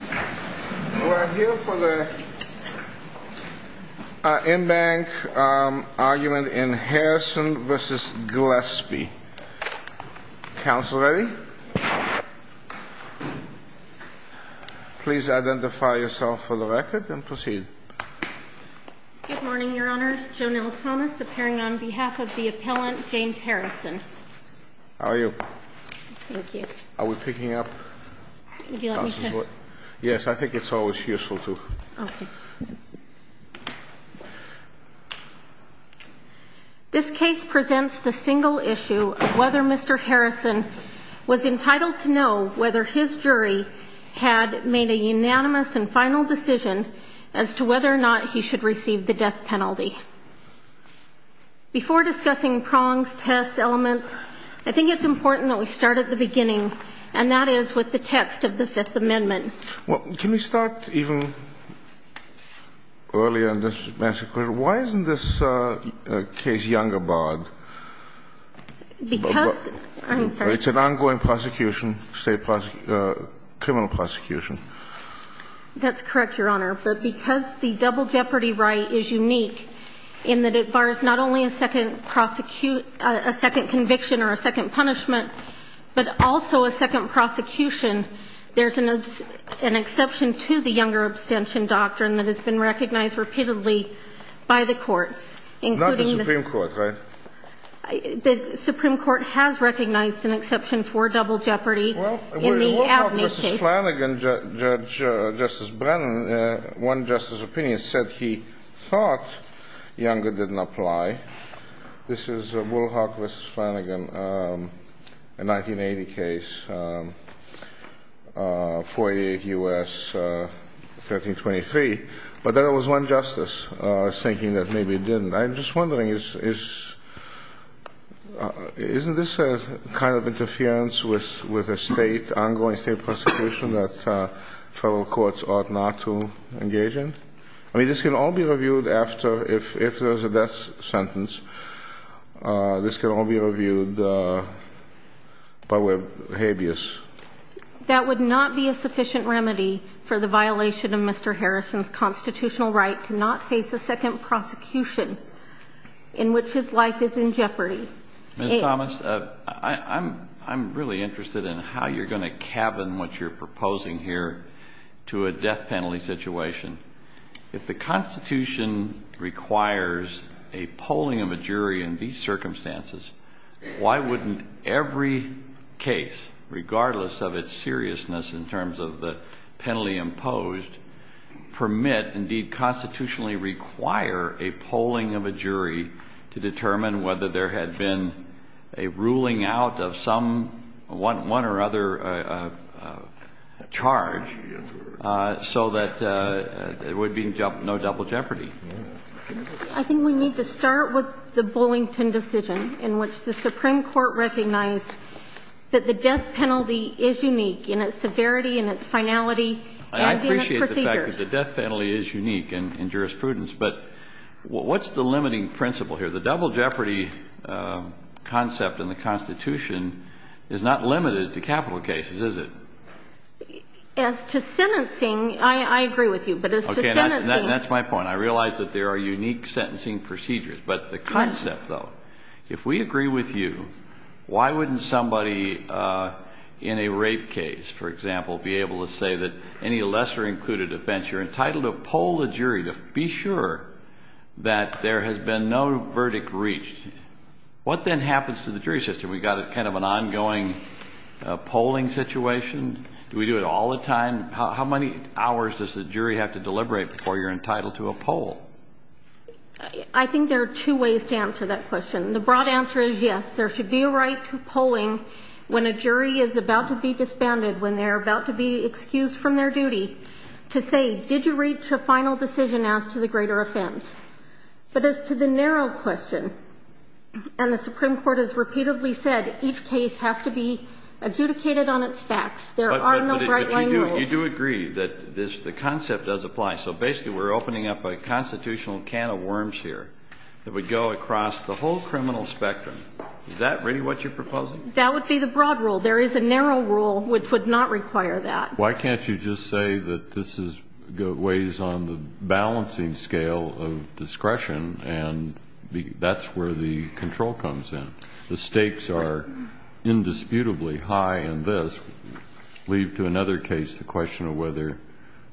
We're here for the in-bank argument in Harrison v. Gillespie. Counsel ready? Please identify yourself for the record and proceed. Good morning, Your Honor. Joanell Thomas, appearing on behalf of the appellant, James Harrison. How are you? Thank you. Are we picking up? Yes, I think it's always useful to. Okay. This case presents the single issue of whether Mr. Harrison was entitled to know whether his jury had made a unanimous and final decision as to whether or not he should receive the death penalty. Before discussing prongs, tests, elements, I think it's important that we start at the beginning, and that is with the text of the Fifth Amendment. Well, can we start even earlier on this matter? Why isn't this case younger, Boggs? Because. It's an ongoing prosecution, state criminal prosecution. That's correct, Your Honor. But because the double jeopardy right is unique in that it bars not only a second conviction or a second punishment, but also a second prosecution, there's an exception to the younger abstention doctrine that has been recognized repeatedly by the court. Not the Supreme Court, right? The Supreme Court has recognized an exception for double jeopardy in the Abney case. Justice Flanagan, Judge Justice Brennan, one justice's opinion said he thought younger didn't apply. This is a Woolhawk v. Flanagan, a 1980 case, 48 U.S., 1323. But there was one justice thinking that maybe it didn't. I'm just wondering, isn't this a kind of interference with an ongoing state prosecution that federal courts ought not to engage in? I mean, this can all be reviewed after, if there's a death sentence. This can all be reviewed, but with habeas. That would not be a sufficient remedy for the violation of Mr. Harrison's constitutional right to not face a second prosecution in which his life is in jeopardy. Ms. Thomas, I'm really interested in how you're going to cabin what you're proposing here to a death penalty situation. If the Constitution requires a polling of a jury in these circumstances, why wouldn't every case, regardless of its seriousness in terms of the penalty imposed, permit, indeed constitutionally require, a polling of a jury to determine whether there had been a ruling out of some one or other charge so that there would be no double jeopardy? I think we need to start with the Bullington decision in which the Supreme Court recognized that the death penalty is unique in its severity and its finality. I appreciate the fact that the death penalty is unique in jurisprudence, but what's the limiting principle here? The double jeopardy concept in the Constitution is not limited to capital cases, is it? As to sentencing, I agree with you, but as to sentencing... Okay, that's my point. I realize that there are unique sentencing procedures, but the concept, though. If we agree with you, why wouldn't somebody in a rape case, for example, be able to say that any lesser included offense, you're entitled to poll the jury to be sure that there has been no verdict reached? What then happens to the jury system? We've got kind of an ongoing polling situation? Do we do it all the time? How many hours does the jury have to deliberate before you're entitled to a poll? I think there are two ways to answer that question. The broad answer is yes. There should be a right to polling when a jury is about to be disbanded, when they're about to be excused from their duty, to say, did you reach a final decision as to the greater offense? But as to the narrow question, and the Supreme Court has repeatedly said each case has to be adjudicated on its facts. You do agree that the concept does apply, so basically we're opening up a constitutional can of worms here that would go across the whole criminal spectrum. Is that really what you're proposing? That would be the broad rule. There is a narrow rule which would not require that. Why can't you just say that this weighs on the balancing scale of discretion, and that's where the control comes in? The stakes are indisputably high in this. Leave to another case to question whether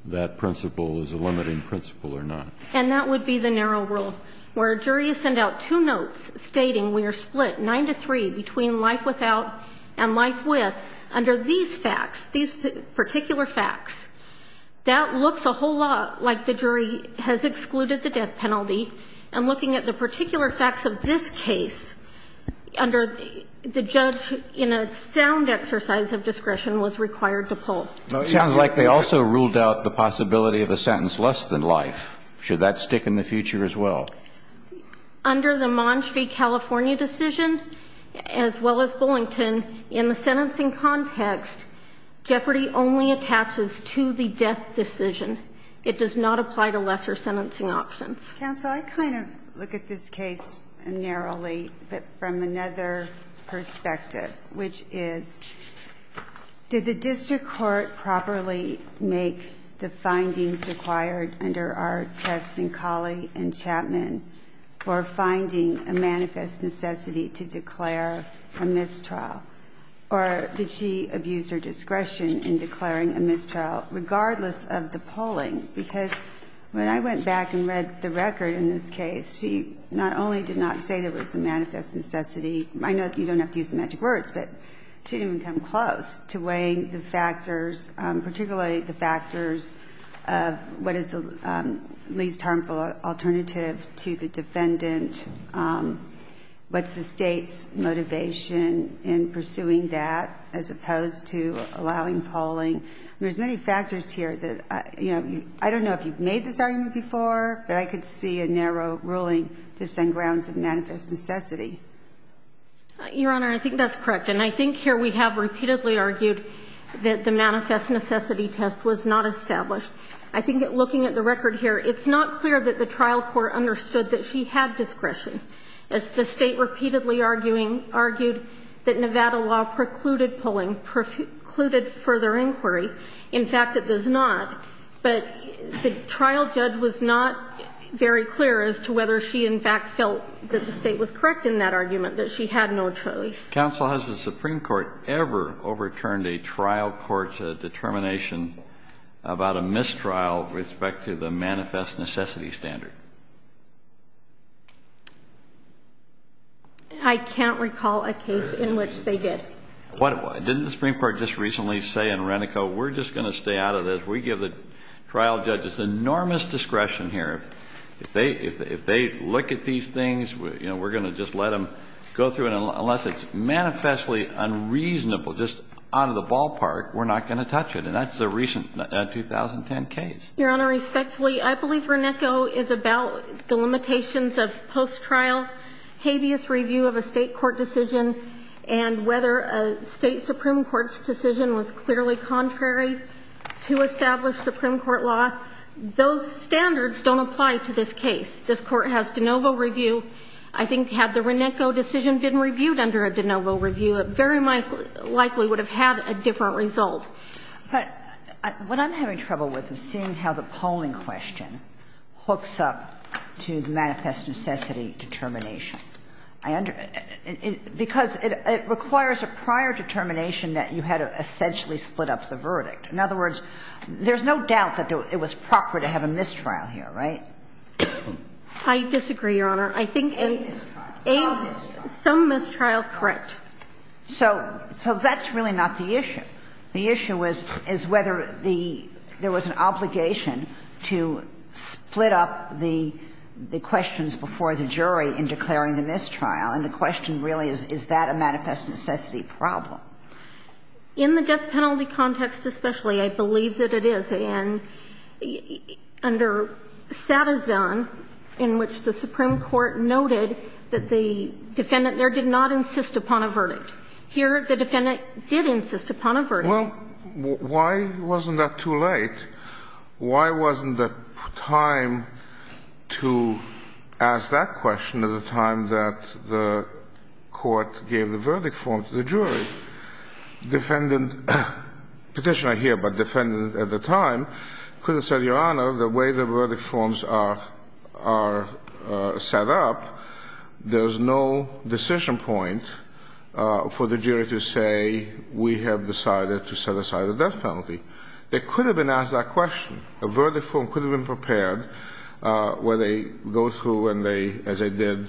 that principle is a limiting principle or not. And that would be the narrow rule, where a jury is sent out two notes stating we are split 9 to 3 between life without and life with, under these facts, these particular facts. That looks a whole lot like the jury has excluded the death penalty. And looking at the particular facts of this case, under the judge in a sound exercise of discretion was required to poll. It sounds like they also ruled out the possibility of a sentence less than life. Should that stick in the future as well? Under the Montgomery, California decision, as well as Bullington, in the sentencing context, jeopardy only attaches to the death decision. It does not apply to lesser sentencing options. Counsel, I kind of look at this case narrowly, but from another perspective, which is, did the district court properly make the findings required under our test in Colley and Chapman for finding a manifest necessity to declare a mistrial? Or did she abuse her discretion in declaring a mistrial regardless of the polling? Because when I went back and read the record in this case, she not only did not say there was a manifest necessity. I know you don't have to use the magic words, but she didn't even come close to weighing the factors, particularly the factors of what is the least harmful alternative to the defendant, what's the state's motivation in pursuing that, as opposed to allowing polling. There's many factors here that, you know, I don't know if you've made this argument before, but I could see a narrow ruling to send grounds of manifest necessity. Your Honor, I think that's correct, and I think here we have repeatedly argued that the manifest necessity test was not established. I think looking at the record here, it's not clear that the trial court understood that she had discretion. The state repeatedly argued that Nevada law precluded polling, precluded further inquiry. In fact, it does not. But the trial judge was not very clear as to whether she, in fact, felt that the state was correct in that argument, that she had no choice. Counsel, has the Supreme Court ever overturned a trial court's determination about a mistrial with respect to the manifest necessity standard? I can't recall a case in which they did. Didn't the Supreme Court just recently say in Renico, we're just going to stay out of this? We give the trial judges enormous discretion here. If they look at these things, you know, we're going to just let them go through it. Unless it's manifestly unreasonable, just out of the ballpark, we're not going to touch it. And that's the recent 2010 case. Your Honor, respectfully, I believe Renico is about the limitations of post-trial, habeas review of a state court decision, and whether a state Supreme Court's decision was clearly contrary to established Supreme Court law. Those standards don't apply to this case. This Court has de novo review. I think had the Renico decision been reviewed under a de novo review, it very likely would have had a different result. But what I'm having trouble with is seeing how the polling question hooks up to manifest necessity determination. Because it requires a prior determination that you had to essentially split up the verdict. In other words, there's no doubt that it was proper to have a mistrial here, right? I disagree, Your Honor. I think some mistrial, correct. So that's really not the issue. The issue is whether there was an obligation to split up the questions before the jury in declaring a mistrial. And the question really is, is that a manifest necessity problem? In the death penalty context especially, I believe that it is. And under Stata zone, in which the Supreme Court noted that the defendant there did not insist upon a verdict. Here, the defendant did insist upon a verdict. Well, why wasn't that too late? Why wasn't the time to ask that question at a time that the court gave the verdict form to the jury? Petitioner here, but defendant at the time could have said, Your Honor, the way the verdict forms are set up, there's no decision point for the jury to say we have decided to set aside a death penalty. It could have been asked that question. A verdict form could have been prepared where they go through and they, as they did,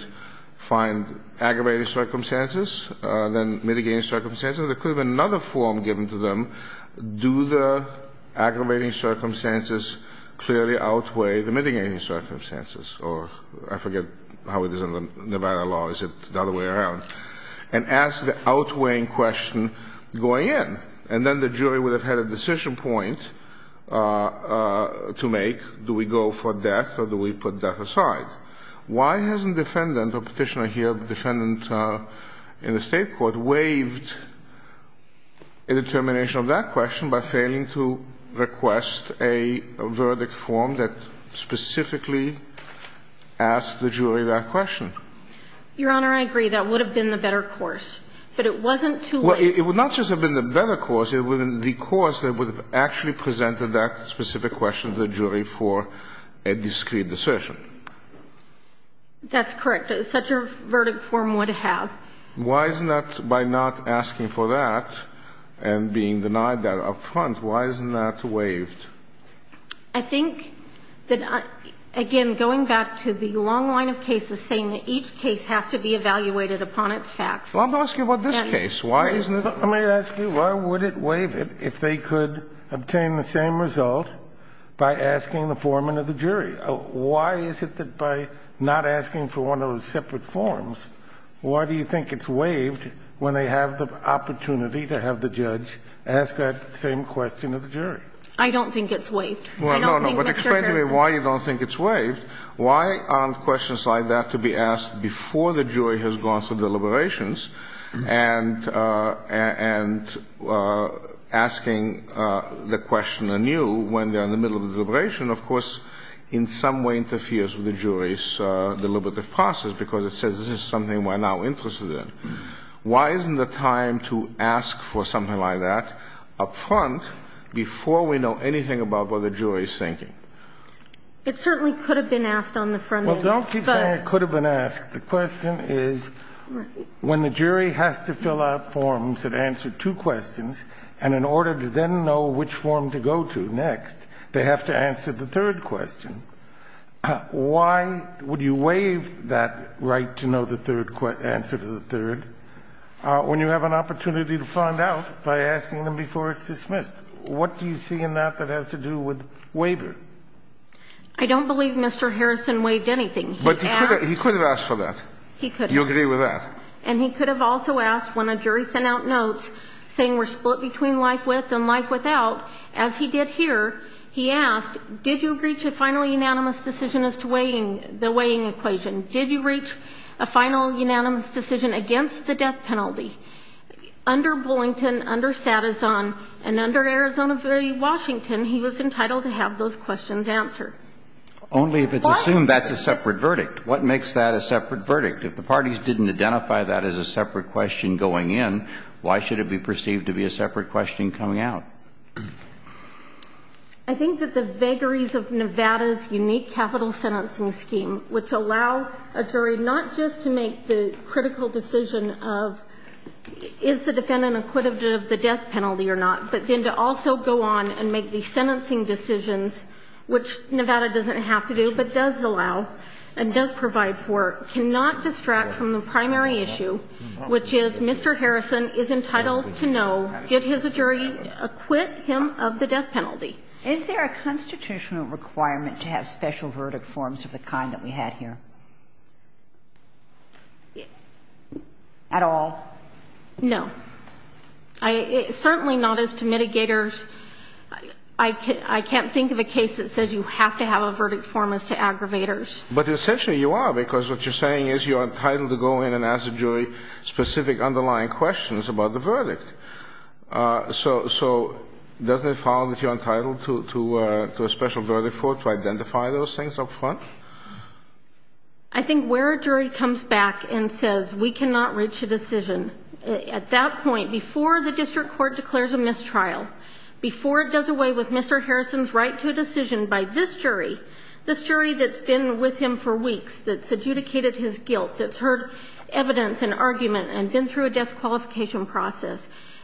find aggravating circumstances, then mitigating circumstances. There could have been another form given to them. Do the aggravating circumstances clearly outweigh the mitigating circumstances? Or I forget how it is in Nevada law. Is it the other way around? And ask the outweighing question going in. And then the jury would have had a decision point to make. Do we go for death or do we put death aside? Why hasn't the defendant, the petitioner here, defendant in the state court, waived a determination of that question by failing to request a verdict form that specifically asked the jury that question? Your Honor, I agree. That would have been the better course. But it wasn't too late. Well, it would not just have been the better course. It would have actually presented that specific question to the jury for a discrete decision. That's correct. Such a verdict form would have. Why isn't that, by not asking for that and being denied that up front, why isn't that waived? I think that, again, going back to the long line of cases saying that each case has to be evaluated upon its facts. Well, I'm asking about this case. Let me ask you, why would it waive it if they could obtain the same result by asking the foreman of the jury? Why is it that by not asking for one of those separate forms, why do you think it's waived when they have the opportunity to have the judge ask that same question of the jury? I don't think it's waived. Well, no, no. But explain to me why you don't think it's waived. Why aren't questions like that to be asked before the jury has gone through deliberations, and asking the question anew when they're in the middle of the deliberation, of course, in some way interferes with the jury's deliberative process, because it says this is something we're now interested in. Why isn't the time to ask for something like that up front before we know anything about what the jury is thinking? It certainly could have been asked on the front end. Well, don't keep saying it could have been asked. The question is, when the jury has to fill out forms that answer two questions, and in order to then know which form to go to next, they have to answer the third question, why would you waive that right to know the answer to the third when you have an opportunity to find out by asking them before it's dismissed? What do you see in that that has to do with waiver? I don't believe Mr. Harrison waived anything. But he could have asked for that. He could have. You agree with that. And he could have also asked when a jury sent out notes saying we're split between like with and like without, as he did here, he asked, did you agree to a final unanimous decision as to the weighing equation? Did you reach a final unanimous decision against the death penalty? Under Boynton, under Satizon, and under Arizona Jury Washington, he was entitled to have those questions answered. Only if it's assumed that's a separate verdict. What makes that a separate verdict? If the parties didn't identify that as a separate question going in, why should it be perceived to be a separate question coming out? I think that the vagaries of Nevada's unique capital sentencing scheme, which allows a jury not just to make the critical decision of is the defendant acquitted of the death penalty or not, but then to also go on and make the sentencing decisions, which Nevada doesn't have to do but does allow and does provide for, cannot distract from the primary issue, which is Mr. Harrison is entitled to know, did his jury acquit him of the death penalty? Is there a constitutional requirement to have special verdict forms of the kind that we have here? At all? No. Certainly not as to mitigators. I can't think of a case that says you have to have a verdict form as to aggravators. But essentially you are, because what you're saying is you're entitled to go in and ask the jury specific underlying questions about the verdict. So doesn't it follow that you're entitled to a special verdict form to identify those things up front? I think where a jury comes back and says we cannot reach a decision, at that point, before the district court declares a mistrial, before it does away with Mr. Harrison's right to a decision by this jury, this jury that's been with him for weeks, that's adjudicated his guilt, that's heard evidence and argument and been through a death qualification process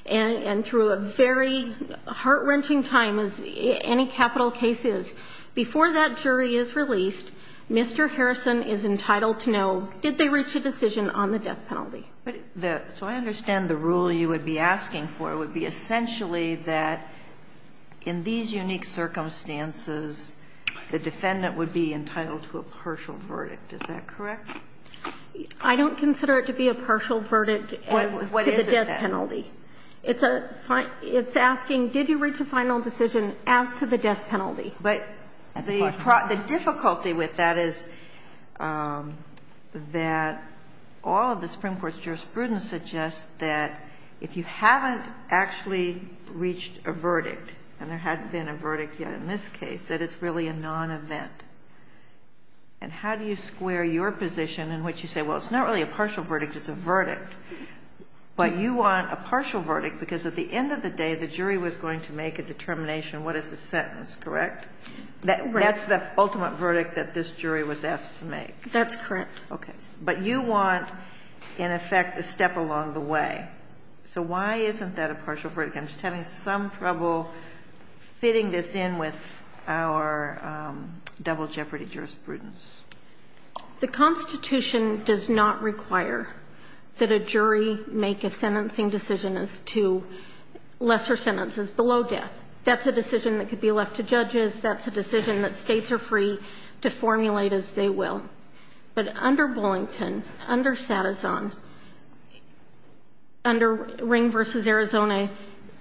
and through a very heart-wrenching time as any capital case is, before that jury is released, Mr. Harrison is entitled to know, did they reach a decision on the death penalty? So I understand the rule you would be asking for would be essentially that in these unique circumstances, the defendant would be entitled to a partial verdict. Is that correct? I don't consider it to be a partial verdict to the death penalty. It's asking, did you reach a final decision after the death penalty? But the difficulty with that is that all of the Supreme Court's jurisprudence suggests that if you haven't actually reached a verdict, and there hasn't been a verdict yet in this case, that it's really a non-event. And how do you square your position in which you say, well, it's not really a partial verdict, it's a verdict, but you want a partial verdict because at the end of the day, the jury was going to make a determination, what is the sentence, correct? That's the ultimate verdict that this jury was asked to make. That's correct. Okay. But you want, in effect, a step along the way. So why isn't that a partial verdict? I'm having some trouble fitting this in with our double jeopardy jurisprudence. The Constitution does not require that a jury make a sentencing decision as to lesser sentences below death. That's a decision that could be left to judges. That's a decision that states are free to formulate as they will. But under Bullington, under Satizon, under Ring v. Arizona,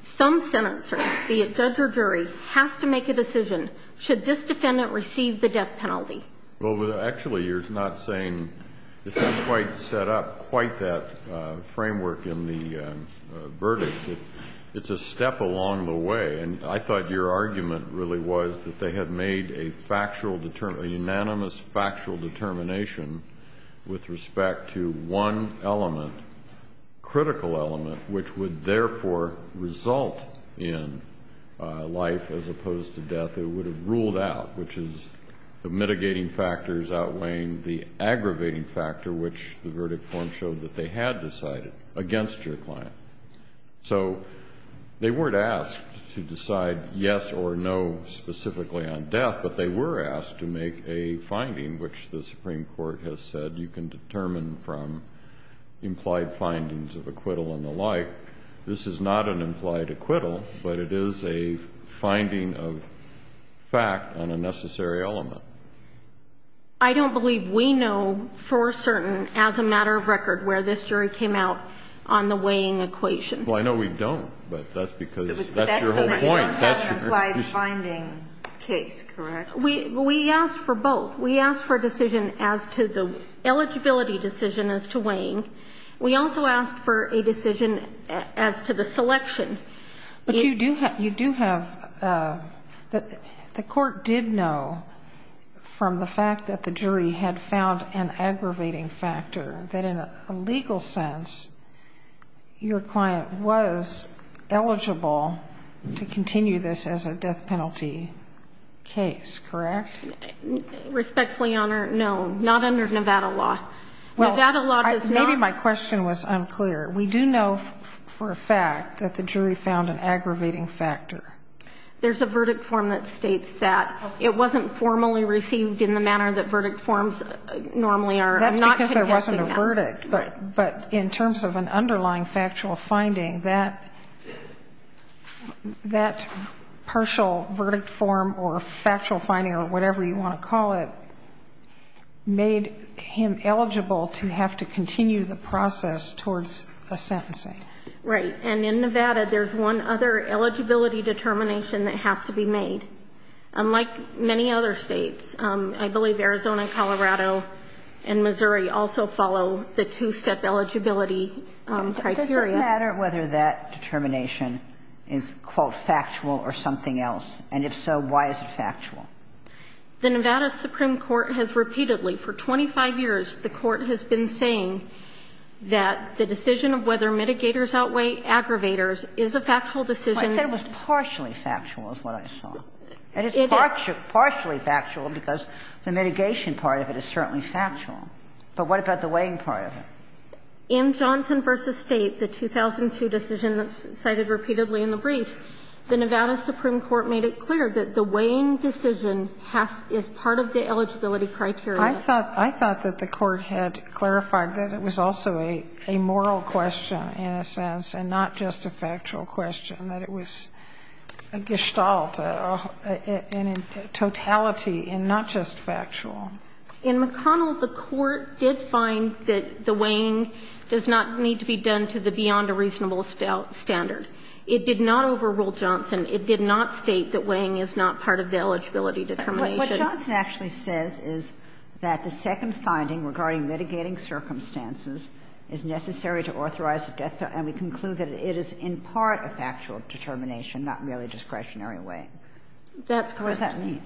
some senator, be it judge or jury, has to make a decision. Should this defendant receive the death penalty? Well, actually, you're not saying it's not quite set up, quite that framework in the verdict. It's a step along the way. And I thought your argument really was that they had made a factual, a unanimous factual determination with respect to one element, critical element, which would therefore result in life as opposed to death. It would have ruled out, which is the mitigating factors outweighing the aggravating factor, which the verdict form showed that they had decided, against your client. So they weren't asked to decide yes or no specifically on death, but they were asked to make a finding, which the Supreme Court has said you can determine from implied findings of acquittal and the like. This is not an implied acquittal, but it is a finding of fact on a necessary element. I don't believe we know for certain, as a matter of record, where this jury came out on the weighing equation. Well, I know we don't, but that's because that's your whole point. Implied finding case, correct? We asked for both. We asked for a decision as to the eligibility decision as to weighing. We also asked for a decision as to the selection. But you do have, the court did know from the fact that the jury had found an aggravating factor that in a legal sense, your client was eligible to continue this as a death penalty case, correct? Respectfully honored, no. Not under Nevada law. Maybe my question was unclear. We do know for a fact that the jury found an aggravating factor. There's a verdict form that states that. It wasn't formally received in the manner that verdict forms normally are. That's because there wasn't a verdict, but in terms of an underlying factual finding, that partial verdict form or factual finding or whatever you want to call it made him eligible to have to continue the process towards a sentencing. Right. And in Nevada, there's one other eligibility determination that has to be made. Unlike many other states, I believe Arizona, Colorado, and Missouri also follow the two-step eligibility criteria. Does it matter whether that determination is, quote, factual or something else? And if so, why is it factual? The Nevada Supreme Court has repeatedly, for 25 years, the court has been saying that the decision of whether mitigators outweigh aggravators is a factual decision. Well, I said it was partially factual is what I saw. And it's partially factual because the mitigation part of it is certainly factual. But what about the weighing part of it? In Johnson v. State, the 2002 decision that's cited repeatedly in the brief, the Nevada Supreme Court made it clear that the weighing decision is part of the eligibility criteria. I thought that the court had clarified that it was also a moral question in a sense and not just a factual question, that it was a gestalt, a totality and not just factual. In McConnell, the court did find that the weighing does not need to be done to the beyond a reasonable standard. It did not overrule Johnson. It did not state that weighing is not part of the eligibility determination. What Johnson actually says is that the second finding regarding mitigating circumstances is necessary to authorize a gestalt. And we conclude that it is in part a factual determination, not merely discretionary weighing. That's correct. What does that mean?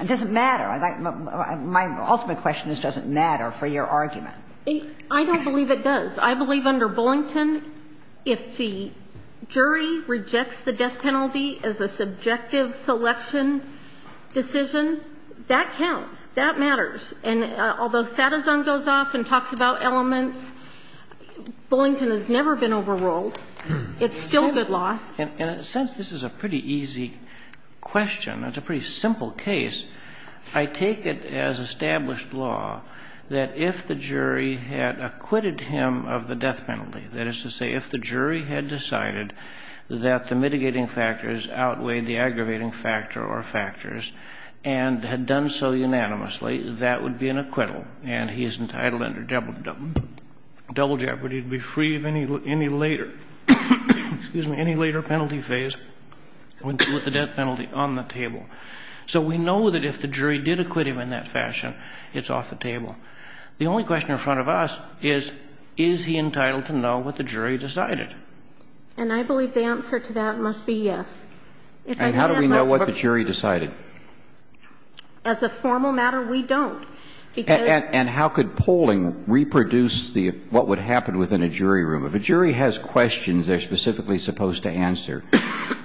It doesn't matter. My ultimate question is, does it matter for your argument? I don't believe it does. I believe under Bullington, if the jury rejects the death penalty as a subjective selection decision, that counts. That matters. And although Satterjohn goes off and talks about elements, Bullington has never been overruled. It's still good law. In a sense, this is a pretty easy question. It's a pretty simple case. I take it as established law that if the jury had acquitted him of the death penalty, that is to say if the jury had decided that the mitigating factors outweighed the aggravating factor or factors and had done so unanimously, that would be an acquittal. And he is entitled under double jeopardy to be free of any later penalty phase with the death penalty on the table. So we know that if the jury did acquit him in that fashion, it's off the table. The only question in front of us is, is he entitled to know what the jury decided? And I believe the answer to that must be yes. And how do we know what the jury decided? As a formal matter, we don't. And how could polling reproduce what would happen within a jury room? If a jury has questions they're specifically supposed to answer,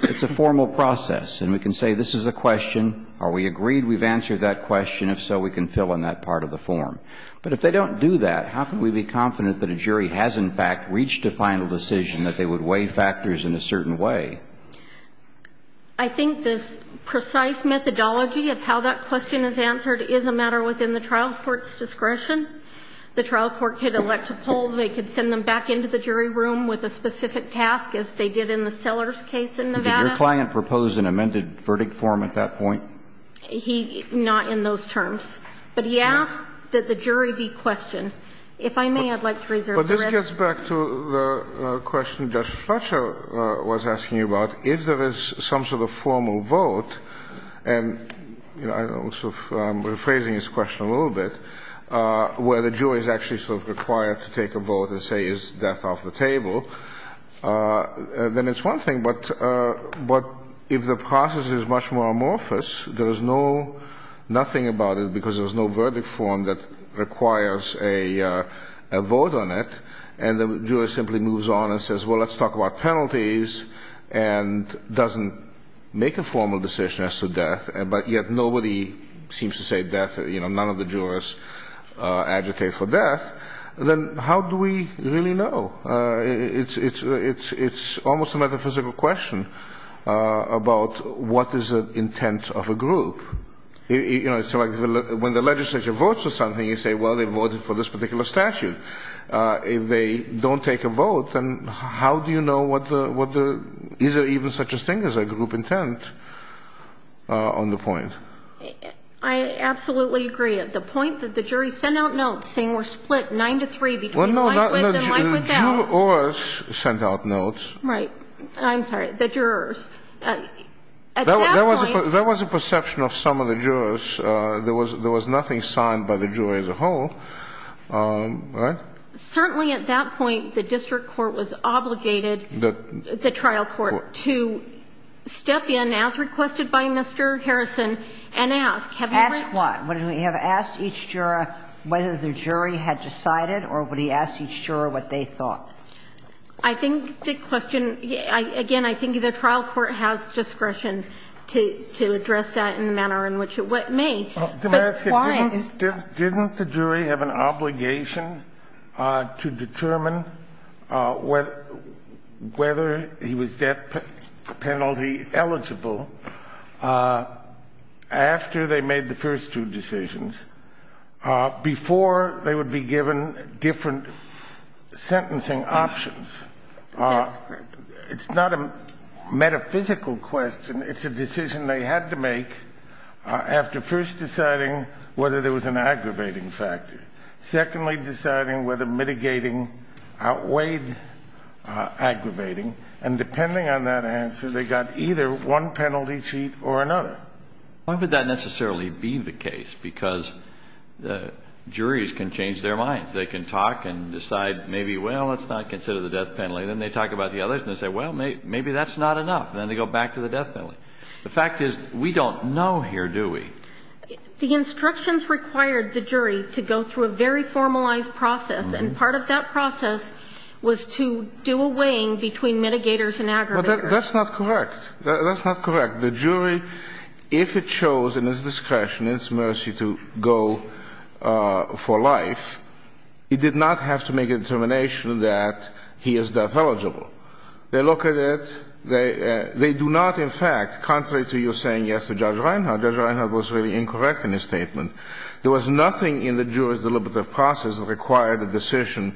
it's a formal process. And we can say this is a question. Are we agreed we've answered that question? If so, we can fill in that part of the form. But if they don't do that, how can we be confident that a jury has in fact reached a final decision that they would weigh factors in a certain way? I think the precise methodology of how that question is answered is a matter within the trial court's discretion. The trial court could elect a poll. They could send them back into the jury room with a specific task as they did in the Sellers case in Nevada. Did your client propose an amended verdict form at that point? Not in those terms. But he asked that the jury be questioned. If I may, I'd like to raise your hand. This gets back to the question Judge Fletcher was asking you about. If there is some sort of formal vote, and I'm rephrasing his question a little bit, where the jury is actually sort of required to take a vote and say is death off the table, then it's one thing, but if the process is much more amorphous, there's nothing about it because there's no verdict form that requires a vote on it, and the jury simply moves on and says, well, let's talk about penalties, and doesn't make a formal decision as to death, but yet nobody seems to say death, you know, none of the jurors advocate for death, then how do we really know? It's almost a metaphysical question about what is the intent of a group. You know, it's like when the legislature votes for something, you say, well, they voted for this particular statute. If they don't take a vote, then how do you know is there even such a thing as a group intent on the point? I absolutely agree. The point that the jury sent out notes saying we're split nine to three. Well, no, the jurors sent out notes. Right. I'm sorry, the jurors. There was a perception of some of the jurors. There was nothing signed by the jury as a whole, right? Certainly at that point the district court was obligated, the trial court, to step in as requested by Mr. Harrison and ask. Ask what? Would he have asked each juror whether the jury had decided or would he ask each juror what they thought? I think the question, again, I think the trial court has discretion to address that in the manner in which it may. Didn't the jury have an obligation to determine whether he was death penalty eligible after they made the first two decisions, before they would be given different sentencing options? It's not a metaphysical question. It's a decision they had to make after first deciding whether there was an aggravating factor, secondly deciding whether mitigating outweighed aggravating, and depending on that answer they got either one penalty sheet or another. Why would that necessarily be the case? Because juries can change their minds. They can talk and decide maybe, well, let's not consider the death penalty, and then they talk about the others and say, well, maybe that's not enough, and then they go back to the death penalty. The fact is we don't know here, do we? The instructions required the jury to go through a very formalized process, and part of that process was to do a weighing between mitigators and aggravators. That's not correct. That's not correct. In fact, the jury, if it chose in its discretion, in its mercy, to go for life, it did not have to make a determination that he is death eligible. They look at it. They do not, in fact, contrary to your saying yes to Judge Reinhardt, Judge Reinhardt was very incorrect in his statement. There was nothing in the jury's deliberative process that required a decision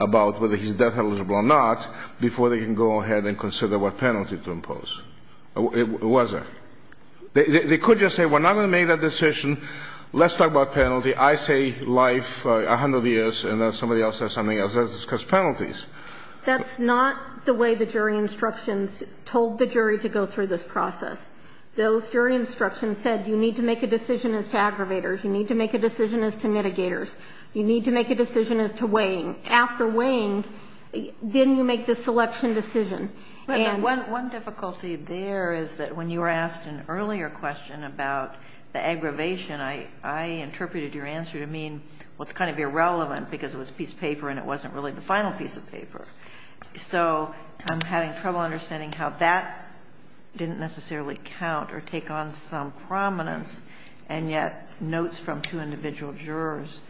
about whether he's death eligible or not before they can go ahead and consider what penalty to impose. It wasn't. They could just say, well, now that we made that decision, let's talk about penalty. I say life, 100 years, and then somebody else says something else, because penalties. That's not the way the jury instructions told the jury to go through this process. Those jury instructions said you need to make a decision as to aggravators. You need to make a decision as to mitigators. You need to make a decision as to weighing. After weighing, then you make the selection decision. One difficulty there is that when you were asked an earlier question about the aggravation, I interpreted your answer to mean, well, it's kind of irrelevant because it was a piece of paper and it wasn't really the final piece of paper. So I'm having trouble understanding how that didn't necessarily count or take on some prominence, and yet notes from two individual jurors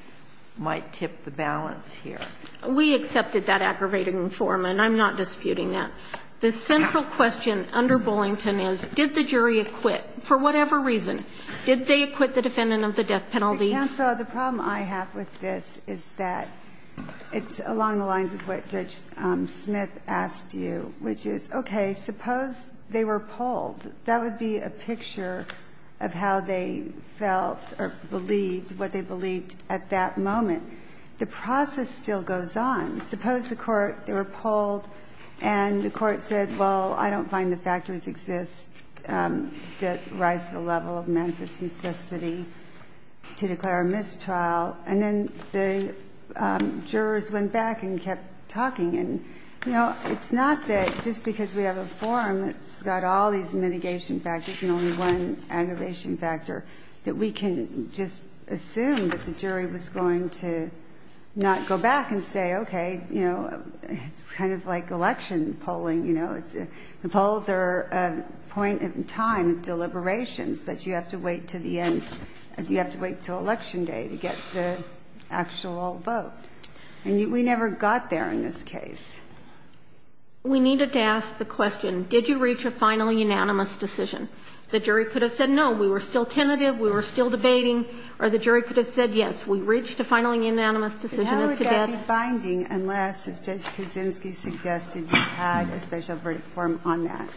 might tip the balance here. We accepted that aggravating form, and I'm not disputing that. The central question under Bullington is, did the jury acquit? For whatever reason, did they acquit the defendant of the death penalty? The problem I have with this is that it's along the lines of what Judge Smith asked you, which is, okay, suppose they were polled. That would be a picture of how they felt or believed, what they believed at that moment. The process still goes on. Suppose the court, they were polled, and the court said, well, I don't find the factors exist that rise the level of mental simplicity to declare a mistrial, and then the jurors went back and kept talking. It's not that just because we have a form that's got all these mitigation factors and only one aggravation factor that we can just assume that the jury was going to not go back and say, okay, it's kind of like election polling. The polls are a point in time of deliberations that you have to wait to the end. You have to wait until Election Day to get the actual vote. And we never got there in this case. We needed to ask the question, did you reach a final unanimous decision? The jury could have said, no, we were still tentative, we were still debating, or the jury could have said, yes, we reached a final unanimous decision. It has to be binding unless the judge didn't suggest that you had a special verdict form on that.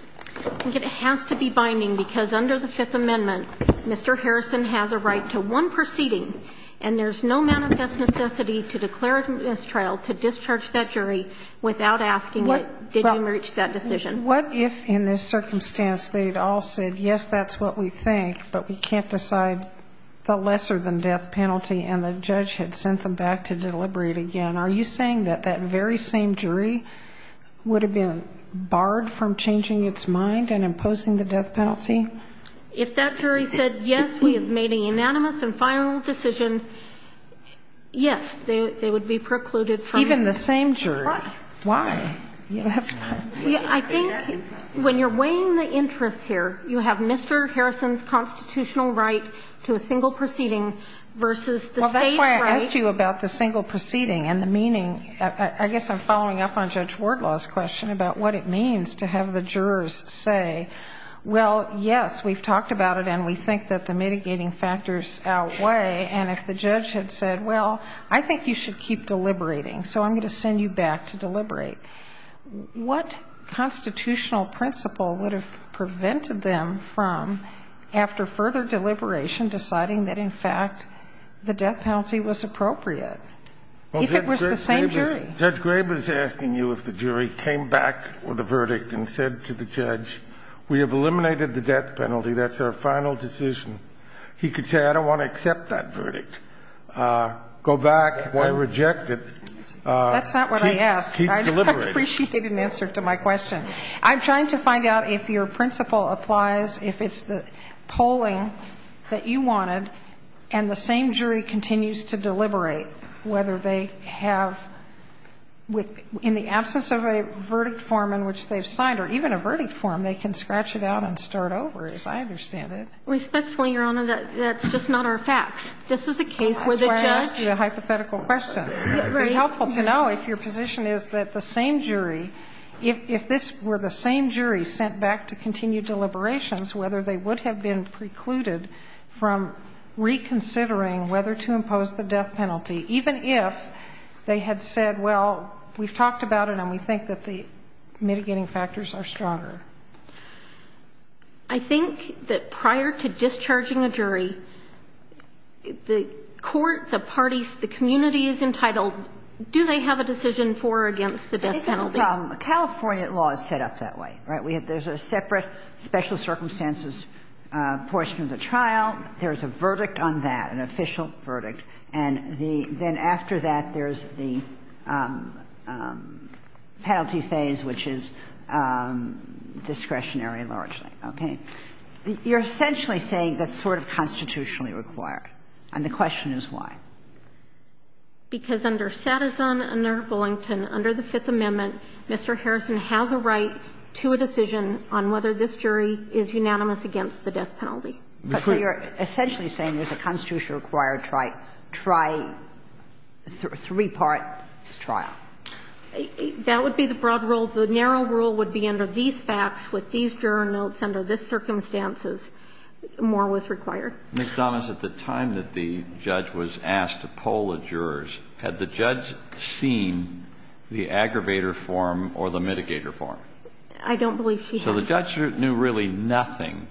It has to be binding because under the Fifth Amendment, Mr. Harrison has a right to one proceeding, and there's no manifest necessity to declare it in this trial to discharge that jury without asking if they didn't reach that decision. What if in this circumstance they'd all said, yes, that's what we think, but we can't decide the lesser-than-death penalty, and the judge had sent them back to deliberate again? Are you saying that that very same jury would have been barred from changing its mind and imposing the death penalty? If that jury said, yes, we have made a unanimous and final decision, yes, they would be precluded from it. Even the same jury? Why? I think when you're weighing the interest here, you have Mr. Harrison's constitutional right to a single proceeding versus the state's right. Well, that's why I asked you about the single proceeding and the meaning. I guess I'm following up on Judge Wardlaw's question about what it means to have the jurors say, well, yes, we've talked about it, and we think that the mitigating factors outweigh, and if the judge had said, well, I think you should keep deliberating, so I'm going to send you back to deliberate. What constitutional principle would have prevented them from, after further deliberation, deciding that, in fact, the death penalty was appropriate? If it was the same jury. Judge Graber is asking you if the jury came back with a verdict and said to the judge, we have eliminated the death penalty. That's our final decision. He could say, I don't want to accept that verdict. Go back. I reject it. That's not what I asked. I just appreciated an answer to my question. I'm trying to find out if your principle applies, if it's the polling that you wanted and the same jury continues to deliberate whether they have, in the absence of a verdict form in which they've signed, or even a verdict form they can scratch it out and start over, as I understand it. Respectfully, Your Honor, that's just not our facts. This is a case where the judge. I'm trying to ask you a hypothetical question. It would be helpful to know if your position is that the same jury, if this were the same jury sent back to continue deliberations, whether they would have been precluded from reconsidering whether to impose the death penalty, even if they had said, well, we've talked about it and we think that the mitigating factors are stronger. I think that prior to discharging a jury, the court, the parties, the community is entitled. Do they have a decision for or against the death penalty? California law is set up that way. There's a separate special circumstances portion of the trial. There's a verdict on that, an official verdict, and then after that there's the penalty phase, which is discretionary largely. Okay. You're essentially saying that's sort of constitutionally required, and the question is why. Because under Satterthorne, under Billington, under the Fifth Amendment, Mr. Harrison has a right to a decision on whether this jury is unanimous against the death penalty. So you're essentially saying there's a constitutionally required three-part trial. That would be the broad rule. The narrow rule would be under these facts, with these juror notes, under this circumstances, more was required. Ms. Donnis, at the time that the judge was asked to poll the jurors, had the judge seen the aggravator form or the mitigator form? I don't believe she had. So the judge knew really nothing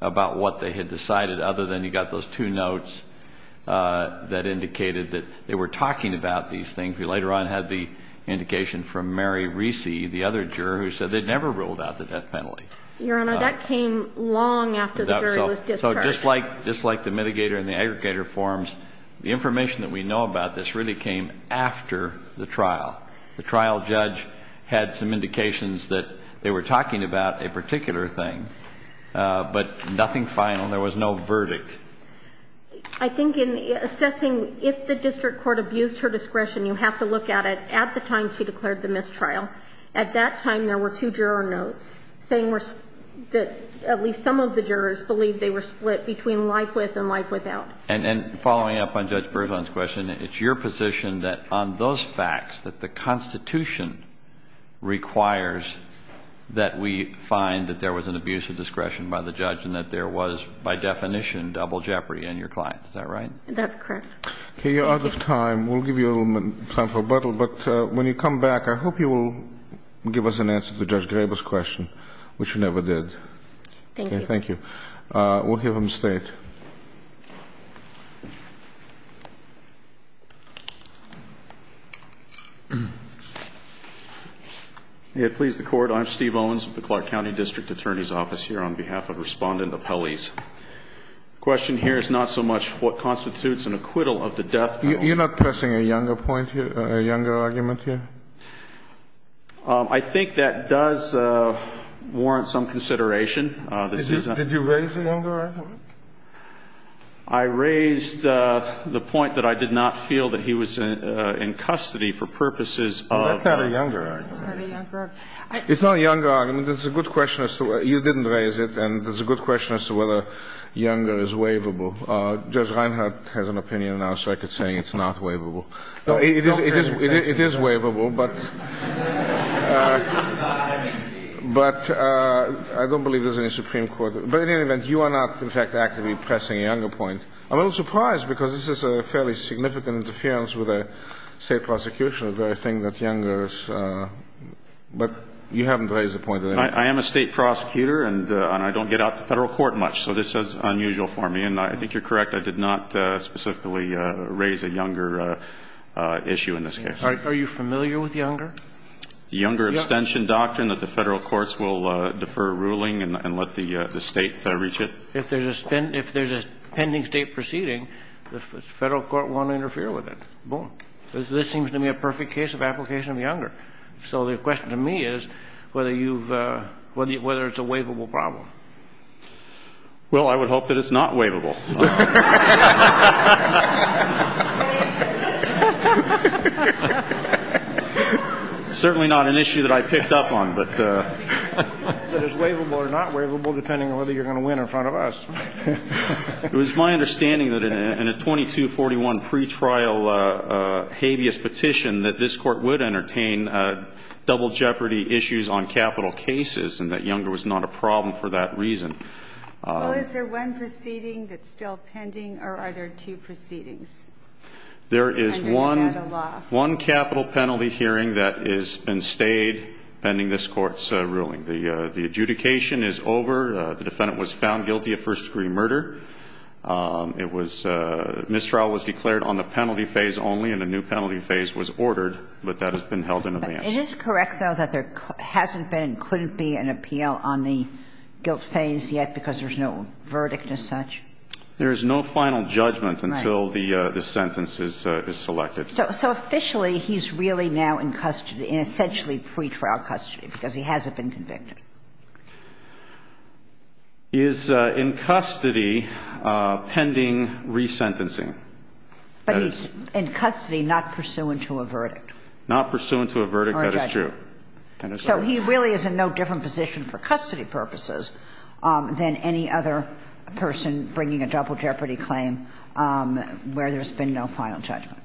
about what they had decided, other than you got those two notes that indicated that they were talking about these things. We later on had the indication from Mary Recy, the other juror, who said they'd never ruled out the death penalty. Your Honor, that came long after the jury was discharged. So just like the mitigator and the aggravator forms, the information that we know about this really came after the trial. The trial judge had some indications that they were talking about a particular thing, but nothing final. There was no verdict. I think in assessing if the district court abused her discretion, you have to look at it at the time she declared the mistrial. At that time, there were two juror notes saying that at least some of the jurors believed they were split between life with and life without. And following up on Judge Berzon's question, it's your position that on those facts that the Constitution requires that we find that there was an abuse of discretion by the judge and that there was, by definition, double jeopardy in your client. Is that right? That's correct. We'll give you a little time for rebuttal. But when you come back, I hope you will give us an answer to Judge Graber's question, which you never did. Thank you. Thank you. We'll hear from the State. Please record. I'm Steve Owens with the Clark County District Attorney's Office here on behalf of Respondent Appellees. The question here is not so much what constitutes an acquittal of the death penalty. You're not pressing a younger point here, a younger argument here? I think that does warrant some consideration. Did you raise an younger argument? I raised the point that I did not feel that he was in custody for purposes of – You looked at a younger argument. It's not a younger argument. You didn't raise it, and there's a good question as to whether younger is waivable. Judge Reinhart has an opinion now, so I could say it's not waivable. It is waivable, but I don't believe there's any Supreme Court – But in any event, you are not, in fact, actively pressing a younger point. I'm a little surprised because this is a fairly significant interference with a state prosecution, so I think that younger is – but you haven't raised the point. I am a state prosecutor, and I don't get out to federal court much, so this is unusual for me, and I think you're correct. I did not specifically raise a younger issue in this case. Are you familiar with younger? The younger abstention doctrine that the federal courts will defer ruling and let the state reach it? If there's a pending state proceeding, the federal court won't interfere with it. This seems to me a perfect case of application of younger. So the question to me is whether it's a waivable problem. Well, I would hope that it's not waivable. Certainly not an issue that I picked up on. But it's waivable or not waivable depending on whether you're going to win in front of us. It was my understanding that in a 2241 pretrial habeas petition, that this court would entertain double jeopardy issues on capital cases and that younger was not a problem for that reason. Is there one proceeding that's still pending, or are there two proceedings? There is one capital penalty hearing that has been stayed pending this court's ruling. The adjudication is over. The defendant was found guilty of first-degree murder. Mistrial was declared on the penalty phase only, and a new penalty phase was ordered, but that has been held in advance. It is correct, though, that there hasn't been, couldn't be, an appeal on the guilt phase yet because there's no verdict as such? There is no final judgment until the sentence is selected. So officially, he's really now in custody, and essentially pretrial custody because he hasn't been convicted? He is in custody pending resentencing. But he's in custody not pursuant to a verdict? Not pursuant to a verdict, that is true. So he really is in no different position for custody purposes than any other person bringing a double jeopardy claim where there's been no final judgment.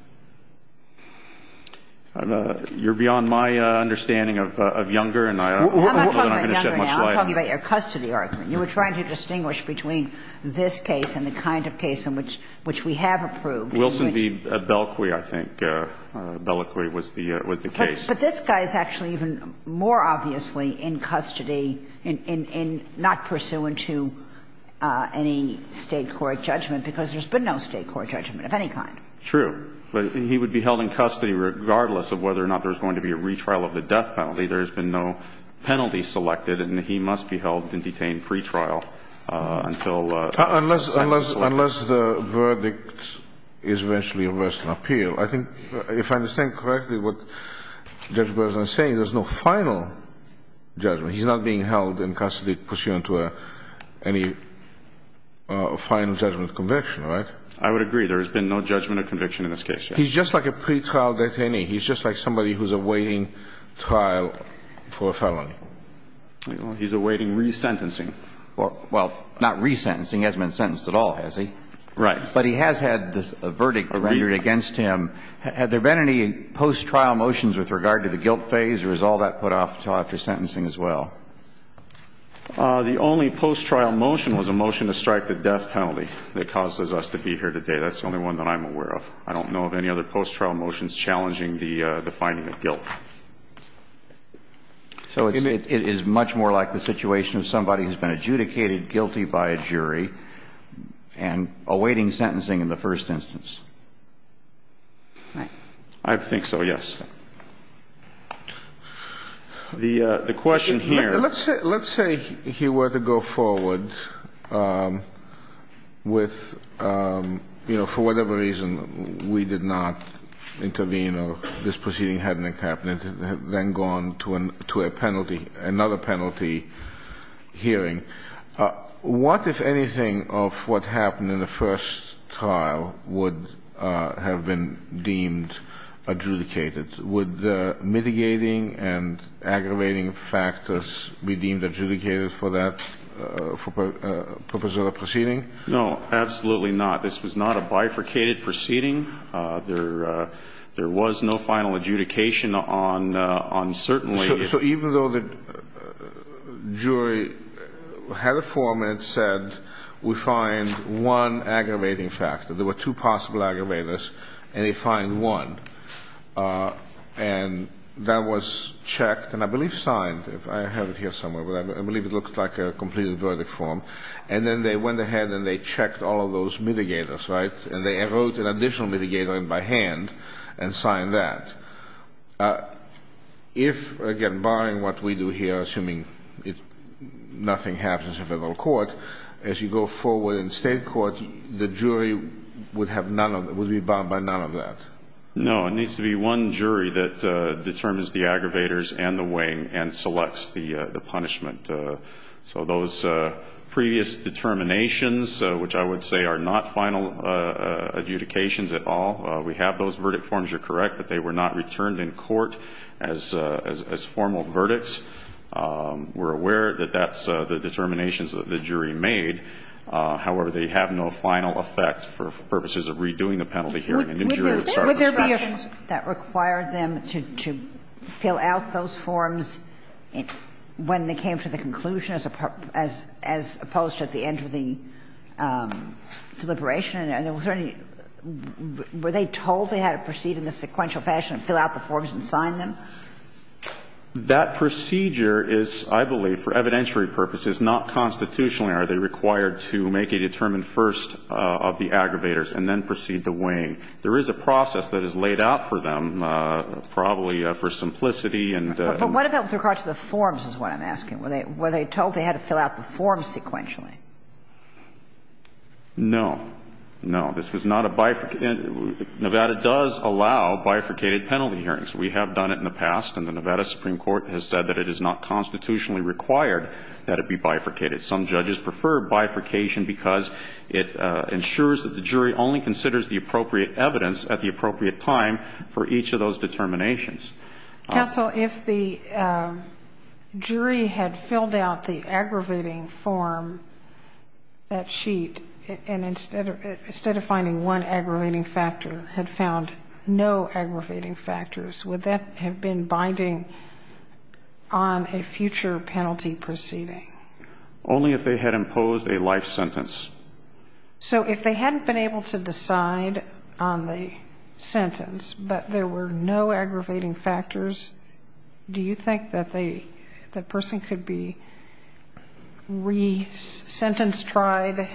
You're beyond my understanding of Younger, and I'm not going to shed much light on that. We're not talking about Younger now. We're talking about your custody argument. You were trying to distinguish between this case and the kind of case in which we have approved. Wilson v. Bellequy, I think. Bellequy was the case. But this guy is actually even more obviously in custody and not pursuant to any state court judgment because there's been no state court judgment of any kind. True. He would be held in custody regardless of whether or not there was going to be a retrial of the death penalty. There has been no penalty selected, and he must be held and detained pretrial until… Unless the verdict is eventually a personal appeal. I think, if I understand correctly, what Judge Bergeson is saying, there's no final judgment. He's not being held in custody pursuant to any final judgment of conviction, right? I would agree. There has been no judgment of conviction in this case, yes. He's just like a pretrial detainee. He's just like somebody who's awaiting trial for a felony. He's awaiting resentencing. Well, not resentencing. He hasn't been sentenced at all, has he? Right. But he has had a verdict rendered against him. Have there been any post-trial motions with regard to the guilt phase, or is all that put off to after sentencing as well? The only post-trial motion was a motion to strike the death penalty that causes us to be here today. That's the only one that I'm aware of. I don't know of any other post-trial motions challenging the finding of guilt. So it is much more like the situation of somebody who's been adjudicated guilty by a jury and awaiting sentencing in the first instance. I think so, yes. The question here. Let's say he were to go forward with, you know, for whatever reason we did not intervene or this proceeding had not happened and then gone to another penalty hearing. What, if anything, of what happened in the first trial would have been deemed adjudicated? Would the mitigating and aggravating factors be deemed adjudicated for that purpose of the proceeding? No, absolutely not. This was not a bifurcated proceeding. There was no final adjudication on certainly. So even though the jury had a form and it said we find one aggravating factor, there were two possible aggravators and they find one, and that was checked and I believe signed. I have it here somewhere, but I believe it looks like a completed verdict form. And then they went ahead and they checked all of those mitigators, right? And they wrote an additional mitigator in by hand and signed that. If, again, barring what we do here, assuming nothing happens in federal court, as you go forward in state court, the jury would be barred by none of that? No, it needs to be one jury that determines the aggravators and the weighing and selects the punishment. So those previous determinations, which I would say are not final adjudications at all, we have those verdict forms. You're correct that they were not returned in court as formal verdicts. We're aware that that's the determinations that the jury made. However, they have no final effect for purposes of redoing the penalty here. Would there be a case that required them to fill out those forms when they came to the conclusion as opposed to at the end of the deliberation? Were they told they had to proceed in a sequential fashion and fill out the forms and sign them? That procedure is, I believe, for evidentiary purposes, not constitutionally. Are they required to make a determined first of the aggravators and then proceed to weighing? There is a process that is laid out for them, probably for simplicity. But what about with regards to the forms is what I'm asking. Were they told they had to fill out the forms sequentially? No. No. This is not a bifurcation. Nevada does allow bifurcated penalty hearings. We have done it in the past, and the Nevada Supreme Court has said that it is not constitutionally required that it be bifurcated. Some judges prefer bifurcation because it ensures that the jury only considers the appropriate evidence at the appropriate time for each of those determinations. Counsel, if the jury had filled out the aggravating form, that sheet, and instead of finding one aggravating factor, had found no aggravating factors, would that have been binding on a future penalty proceeding? Only if they had imposed a life sentence. So if they hadn't been able to decide on the sentence, but there were no aggravating factors, do you think that the person could be resentenced, tried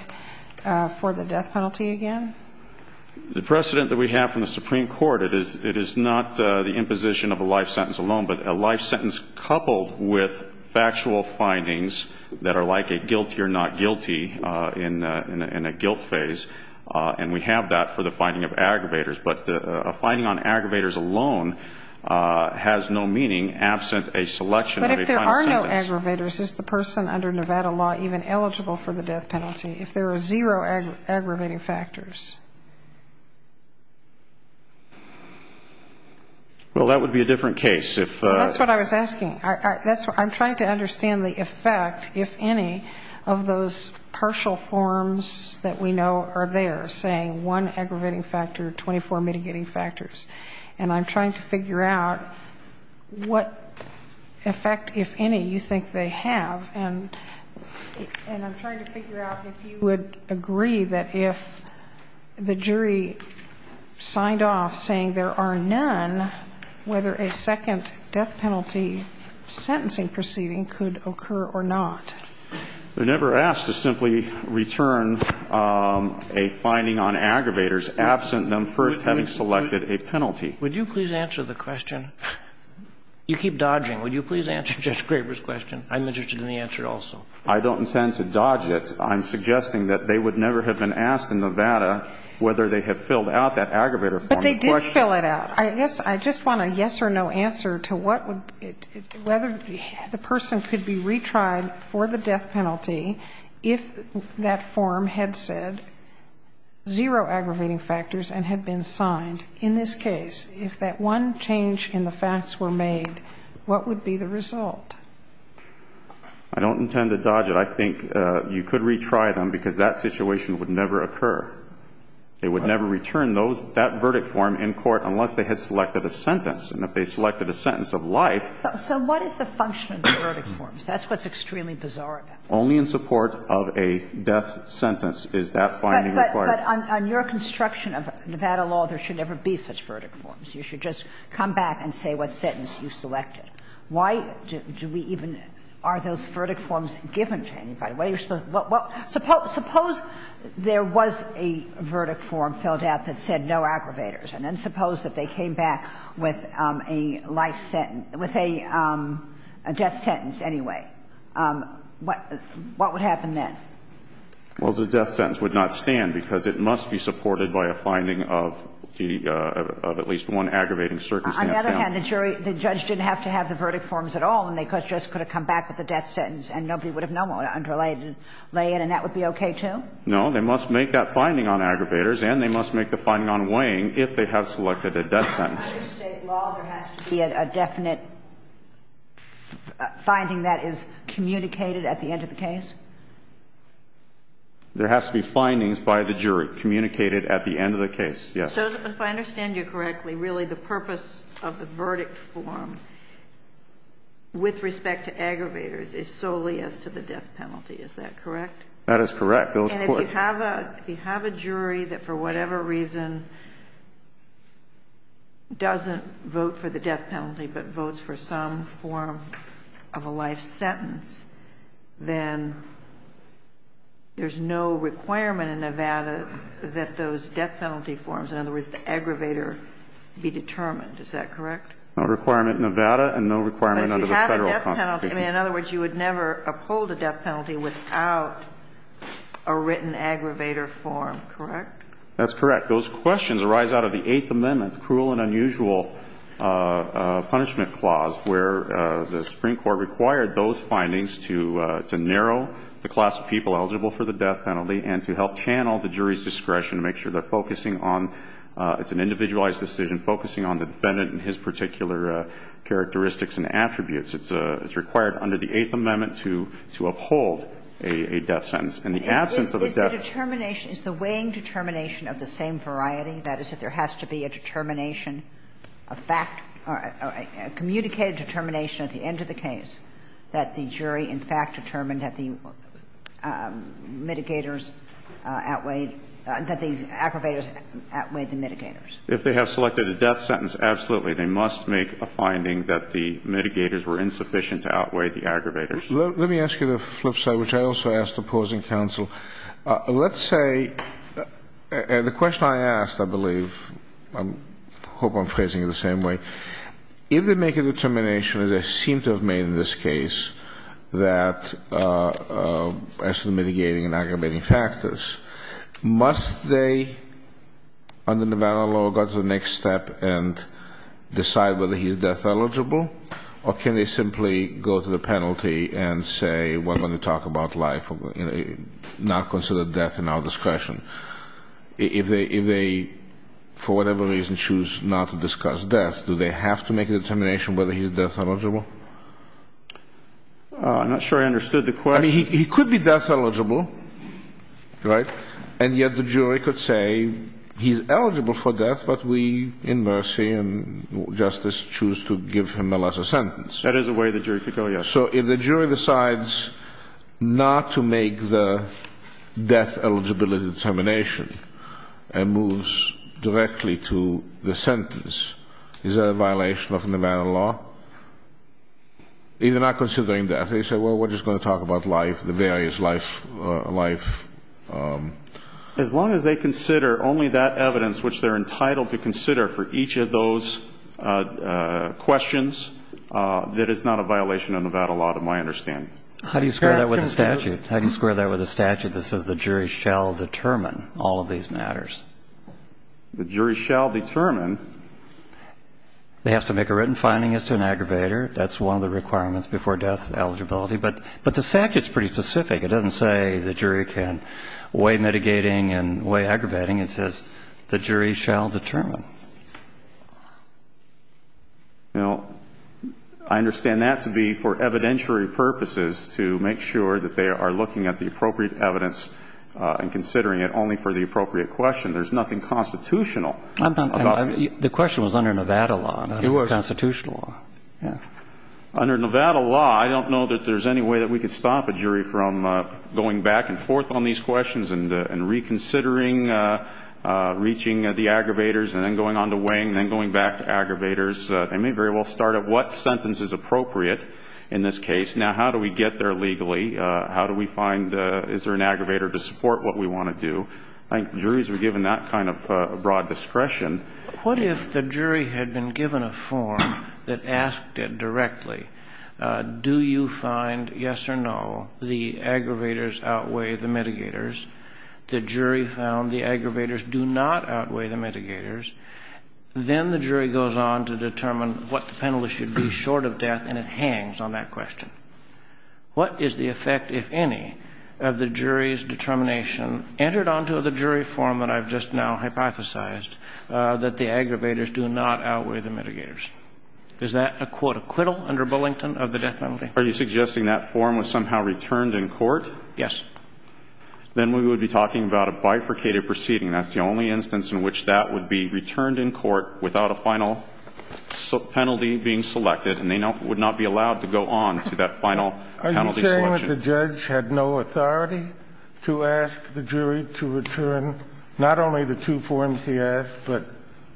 for the death penalty again? The precedent that we have from the Supreme Court, it is not the imposition of a life sentence alone, but a life sentence coupled with factual findings that are like a guilty or not guilty in a guilt phase, and we have that for the finding of aggravators. But a finding on aggravators alone has no meaning absent a selection of a final sentence. But if there are no aggravators, is the person under Nevada law even eligible for the death penalty, if there are zero aggravating factors? Well, that would be a different case. That's what I was asking. I'm trying to understand the effect, if any, of those partial forms that we know are there, saying one aggravating factor, 24 mitigating factors. And I'm trying to figure out what effect, if any, you think they have. And I'm trying to figure out if you would agree that if the jury signed off saying there are none, whether a second death penalty sentencing proceeding could occur or not. They're never asked to simply return a finding on aggravators absent them first having selected a penalty. Would you please answer the question? You keep dodging. Would you please answer Judge Graber's question? I'm interested in the answer also. I don't intend to dodge it. I'm suggesting that they would never have been asked in Nevada whether they had filled out that aggravator form. But they did fill it out. I just want a yes or no answer to whether the person could be retried for the death penalty if that form had said zero aggravating factors and had been signed. In this case, if that one change in the facts were made, what would be the result? I don't intend to dodge it. I think you could retry them because that situation would never occur. They would never return that verdict form in court unless they had selected a sentence. And if they selected a sentence of life... So what is the function of the verdict forms? That's what's extremely bizarre about this. Only in support of a death sentence is that finding required. But on your construction of Nevada law, there should never be such verdict forms. You should just come back and say what sentence you selected. Why do we even... Are those verdict forms given to anybody? Suppose there was a verdict form filled out that said no aggravators and then suppose that they came back with a death sentence anyway. What would happen then? Well, the death sentence would not stand because it must be supported by a finding of at least one aggravating circumstance. On the other hand, the judge didn't have to have the verdict forms at all and they just could have come back with a death sentence and nobody would have known what it underlayed and that would be okay too? No, they must make that finding on aggravators and they must make the finding on weighing if they have selected a death sentence. Under state law, there has to be a definite finding that is communicated at the end of the case? There has to be findings by the jury communicated at the end of the case, yes. So if I understand you correctly, really the purpose of the verdict form with respect to aggravators is solely as to the death penalty, is that correct? That is correct. And if you have a jury that for whatever reason doesn't vote for the death penalty but votes for some form of a life sentence, then there's no requirement in Nevada that those death penalty forms, in other words, the aggravator, be determined, is that correct? No requirement in Nevada and no requirement under the federal constitution. But you have a death penalty. In other words, you would never uphold a death penalty without a written aggravator form, correct? That's correct. Those questions arise out of the Eighth Amendment's cruel and unusual punishment clause where the Supreme Court required those findings to narrow the class of people eligible for the death penalty and to help channel the jury's discretion to make sure they're focusing on, it's an individualized decision, focusing on the defendant and his particular characteristics and attributes. It's required under the Eighth Amendment to uphold a death sentence. Is the weighing determination of the same variety, that is if there has to be a communicated determination at the end of the case that the jury in fact determined that the aggravators outweighed the mitigators? If they have selected a death sentence, absolutely. They must make a finding that the mitigators were insufficient to outweigh the aggravators. Let me ask you the flip side, which I also ask the opposing counsel. Let's say, and the question I asked, I believe, I hope I'm phrasing it the same way. If they make a determination, as they seem to have made in this case, that mitigating and aggravating factors, must they, under Nevada law, go to the next step and decide whether he's death eligible? Or can they simply go to the penalty and say, we're going to talk about life, not consider death in our discretion? If they, for whatever reason, choose not to discuss death, do they have to make a determination whether he's death eligible? I'm not sure I understood the question. He could be death eligible, right? And yet the jury could say he's eligible for death, but we, in mercy and justice, choose to give him, alas, a sentence. That is a way the jury could go, yes. So if the jury decides not to make the death eligibility determination and moves directly to the sentence, is that a violation of Nevada law? They're not considering death. They say, well, we're just going to talk about life, the various life. As long as they consider only that evidence, which they're entitled to consider for each of those questions, that is not a violation of Nevada law to my understanding. How do you square that with a statute? How do you square that with a statute that says the jury shall determine all of these matters? The jury shall determine. They have to make a written finding as to an aggravator. That's one of the requirements before death eligibility. But the statute's pretty specific. It doesn't say the jury can weigh mitigating and weigh aggravating. It says the jury shall determine. Now, I understand that to be for evidentiary purposes, to make sure that they are looking at the appropriate evidence and considering it only for the appropriate question. There's nothing constitutional about it. The question was under Nevada law, not constitutional. Under Nevada law, I don't know that there's any way that we could stop a jury from going back and forth on these questions and reconsidering reaching the aggravators and then going on to weighing and then going back to aggravators. They may very well start at what sentence is appropriate in this case. Now, how do we get there legally? How do we find is there an aggravator to support what we want to do? I think juries are given that kind of broad discretion. What if the jury had been given a form that asked it directly, do you find, yes or no, the aggravators outweigh the mitigators? The jury found the aggravators do not outweigh the mitigators. Then the jury goes on to determine what the penalty should be short of death, and it hangs on that question. What is the effect, if any, of the jury's determination entered onto the jury form that I've just now hypothesized that the aggravators do not outweigh the mitigators? Is that a, quote, acquittal under Bullington of the death penalty? Are you suggesting that form was somehow returned in court? Yes. Then we would be talking about a bifurcated proceeding. That's the only instance in which that would be returned in court without a final penalty being selected, and they would not be allowed to go on to that final penalty selection. Assuming that the judge had no authority to ask the jury to return not only the two forms he asked, but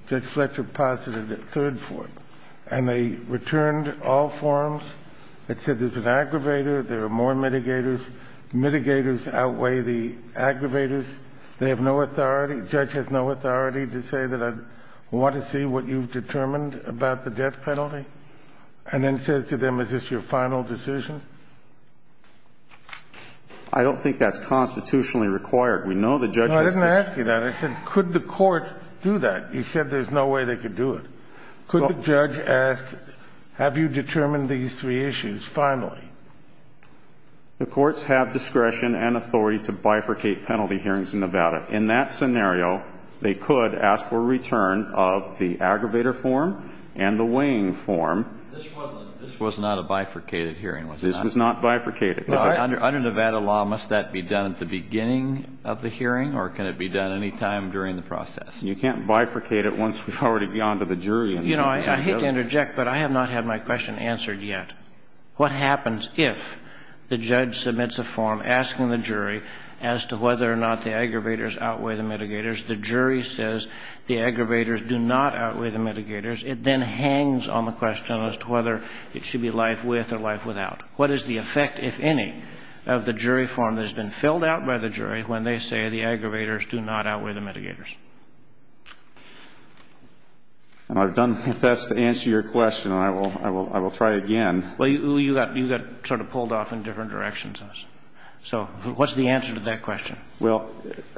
just select a positive third form, and they returned all forms that said there's an aggravator, there are more mitigators, mitigators outweigh the aggravators, they have no authority, the judge has no authority to say that I want to see what you've determined about the death penalty, and then says to them, is this your final decision? I don't think that's constitutionally required. No, I didn't ask you that. I said, could the court do that? You said there's no way they could do it. Could the judge ask, have you determined these three issues finally? The courts have discretion and authority to bifurcate penalty hearings in Nevada. In that scenario, they could ask for a return of the aggravator form and the weighing form. This was not a bifurcated hearing, was it? This was not bifurcated. Under Nevada law, must that be done at the beginning of the hearing, or can it be done any time during the process? You can't bifurcate it once you've already gone to the jury. I hate to interject, but I have not had my question answered yet. What happens if the judge submits a form asking the jury as to whether or not the aggravators outweigh the mitigators, the jury says the aggravators do not outweigh the mitigators, it then hangs on the question as to whether it should be life with or life without. What is the effect, if any, of the jury form that has been filled out by the jury when they say the aggravators do not outweigh the mitigators? I've done my best to answer your question, and I will try again. Well, you got sort of pulled off in different directions. So what's the answer to that question? Well,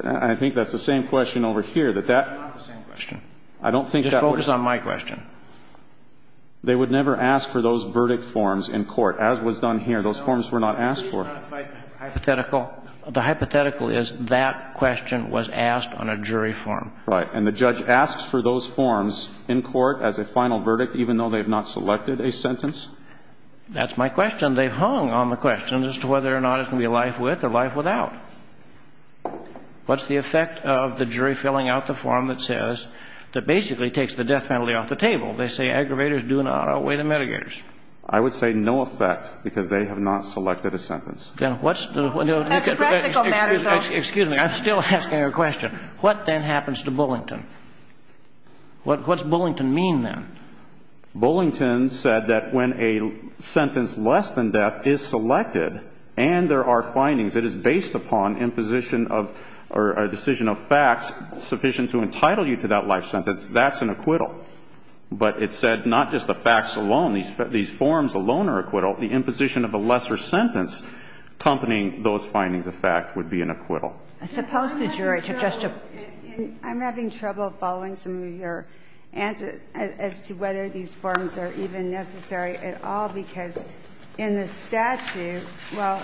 I think that's the same question over here. That's not the same question. Just focus on my question. They would never ask for those verdict forms in court, as was done here. Those forms were not asked for. The hypothetical is that question was asked on a jury form. Right, and the judge asks for those forms in court as a final verdict even though they've not selected a sentence? That's my question. And they've hung on the question as to whether or not it can be life with or life without. What's the effect of the jury filling out the form that says, that basically takes the death penalty off the table? They say aggravators do not outweigh the mitigators. I would say no effect because they have not selected a sentence. That's a practical matter, though. Excuse me, I'm still asking a question. What then happens to Bullington? What does Bullington mean then? Bullington said that when a sentence less than death is selected and there are findings that is based upon imposition or decision of facts sufficient to entitle you to that life sentence, that's an acquittal. But it said not just the facts alone. These forms alone are acquittal. The imposition of a lesser sentence accompanying those findings of fact would be an acquittal. I'm having trouble following some of your answers as to whether these forms are even necessary at all because in the statute, well,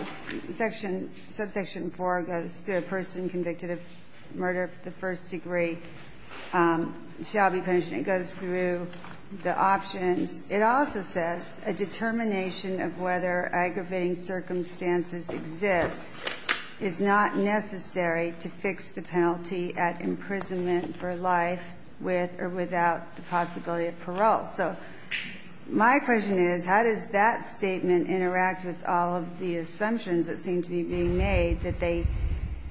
subsection 4 goes, the person convicted of murder of the first degree shall be punished. It goes through the options. It also says a determination of whether aggravating circumstances exist is not necessary to fix the penalty at imprisonment for life with or without the possibility of parole. So my question is how does that statement interact with all of the assumptions that seem to be being made that they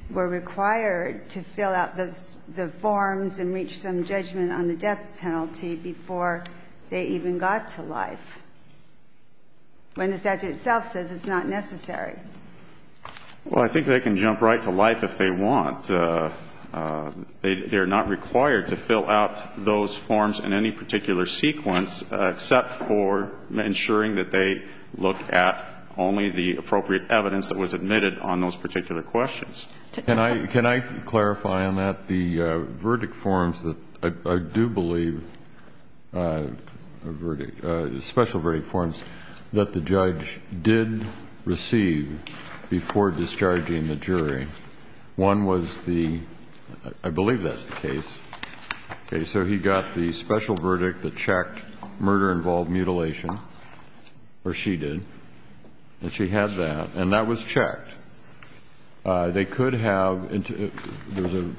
were required to fill out the forms and reach some judgment on the death penalty before they even got to life when the statute itself says it's not necessary? Well, I think they can jump right to life if they want. They're not required to fill out those forms in any particular sequence except for ensuring that they look at only the appropriate evidence that was admitted on those particular questions. Can I clarify on that? The verdict forms that I do believe, special verdict forms that the judge did receive before discharging the jury, one was the, I believe that's the case, so he got the special verdict that checked murder involved mutilation, or she did, they could have, the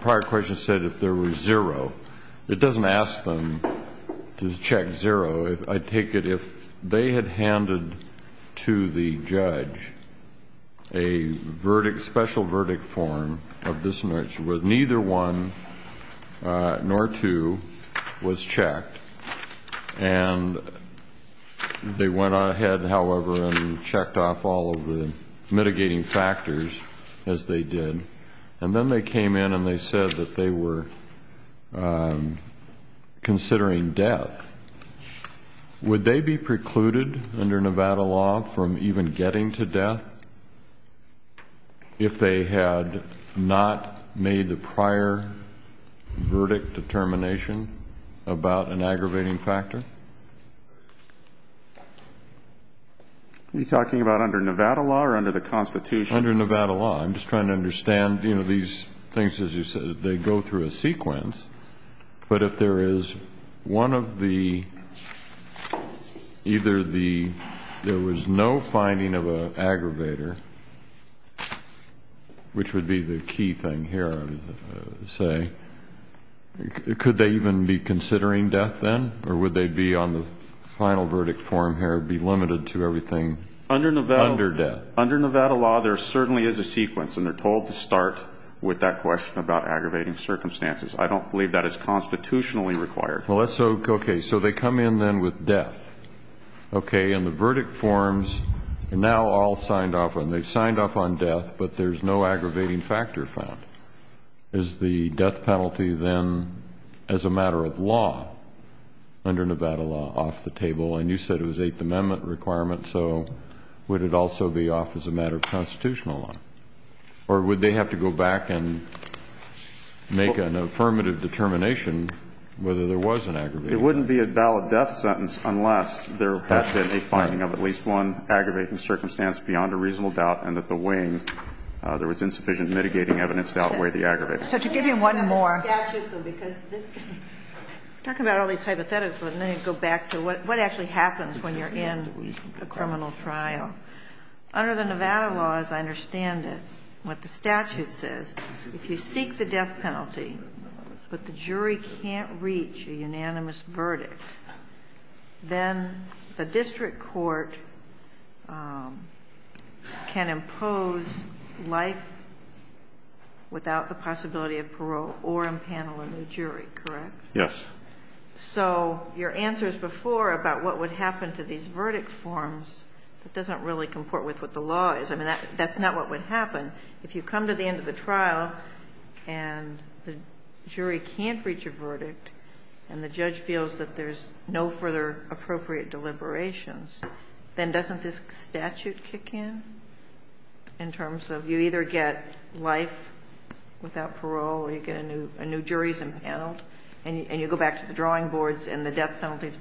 prior question said if there was zero. It doesn't ask them to check zero. I take it if they had handed to the judge a special verdict form of this nature, but neither one nor two was checked, and they went ahead, however, and checked off all of the mitigating factors as they did, and then they came in and they said that they were considering death. Would they be precluded under Nevada law from even getting to death if they had not made the prior verdict determination about an aggravating factor? Are you talking about under Nevada law or under the Constitution? Under Nevada law. I'm just trying to understand, you know, these things, as you said, they go through a sequence, but if there is one of the, either the, there was no finding of an aggravator, which would be the key thing here, I would say, could they even be considering death then, or would they be on the final verdict form here, be limited to everything under death? Under Nevada law, there certainly is a sequence, and they're told to start with that question about aggravating circumstances. I don't believe that is constitutionally required. Well, okay, so they come in then with death, okay, and the verdict forms are now all signed off, and they've signed off on death, but there's no aggravating factor found. Is the death penalty then as a matter of law under Nevada law off the table? And you said it was an Eighth Amendment requirement, so would it also be off as a matter of constitutional law, or would they have to go back and make an affirmative determination whether there was an aggravator? It wouldn't be a valid death sentence unless there was any finding of at least one aggravating circumstance beyond a reasonable doubt and that the weighing, there was insufficient mitigating evidence to outweigh the aggravator. So to give you one more, because this, talk about all these hypotheticals, but let me go back to what actually happens when you're in a criminal trial. Under the Nevada law, as I understand it, what the statute says, if you seek the death penalty, but the jury can't reach a unanimous verdict, then the district court can impose life without the possibility of parole or impaneling the jury, correct? Yes. So your answers before about what would happen to these verdict forms, it doesn't really comport with what the law is. I mean, that's not what would happen. If you come to the end of the trial and the jury can't reach a verdict and the judge feels that there's no further appropriate deliberations, then doesn't this statute kick in in terms of you either get life without parole or you get a new jury impaneled and you go back to the drawing boards and the death penalty is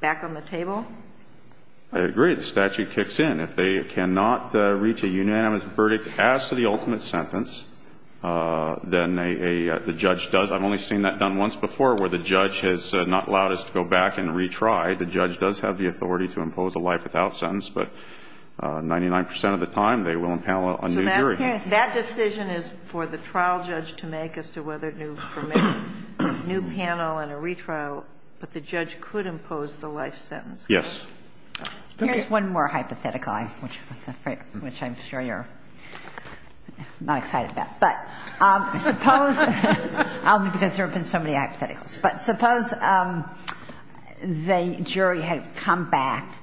back on the table? I agree. The statute kicks in. If they cannot reach a unanimous verdict, ask for the ultimate sentence, then the judge does. I've only seen that done once before where the judge has not allowed us to go back and retry. The judge does have the authority to impose a life without sentence, but 99 percent of the time they will impanel a new jury. That decision is for the trial judge to make as to whether to permit a new panel and a retrial, but the judge could impose the life sentence. Yes. Here's one more hypothetical, which I'm sure you're not excited about. But suppose, because there have been so many hypotheticals, but suppose the jury had come back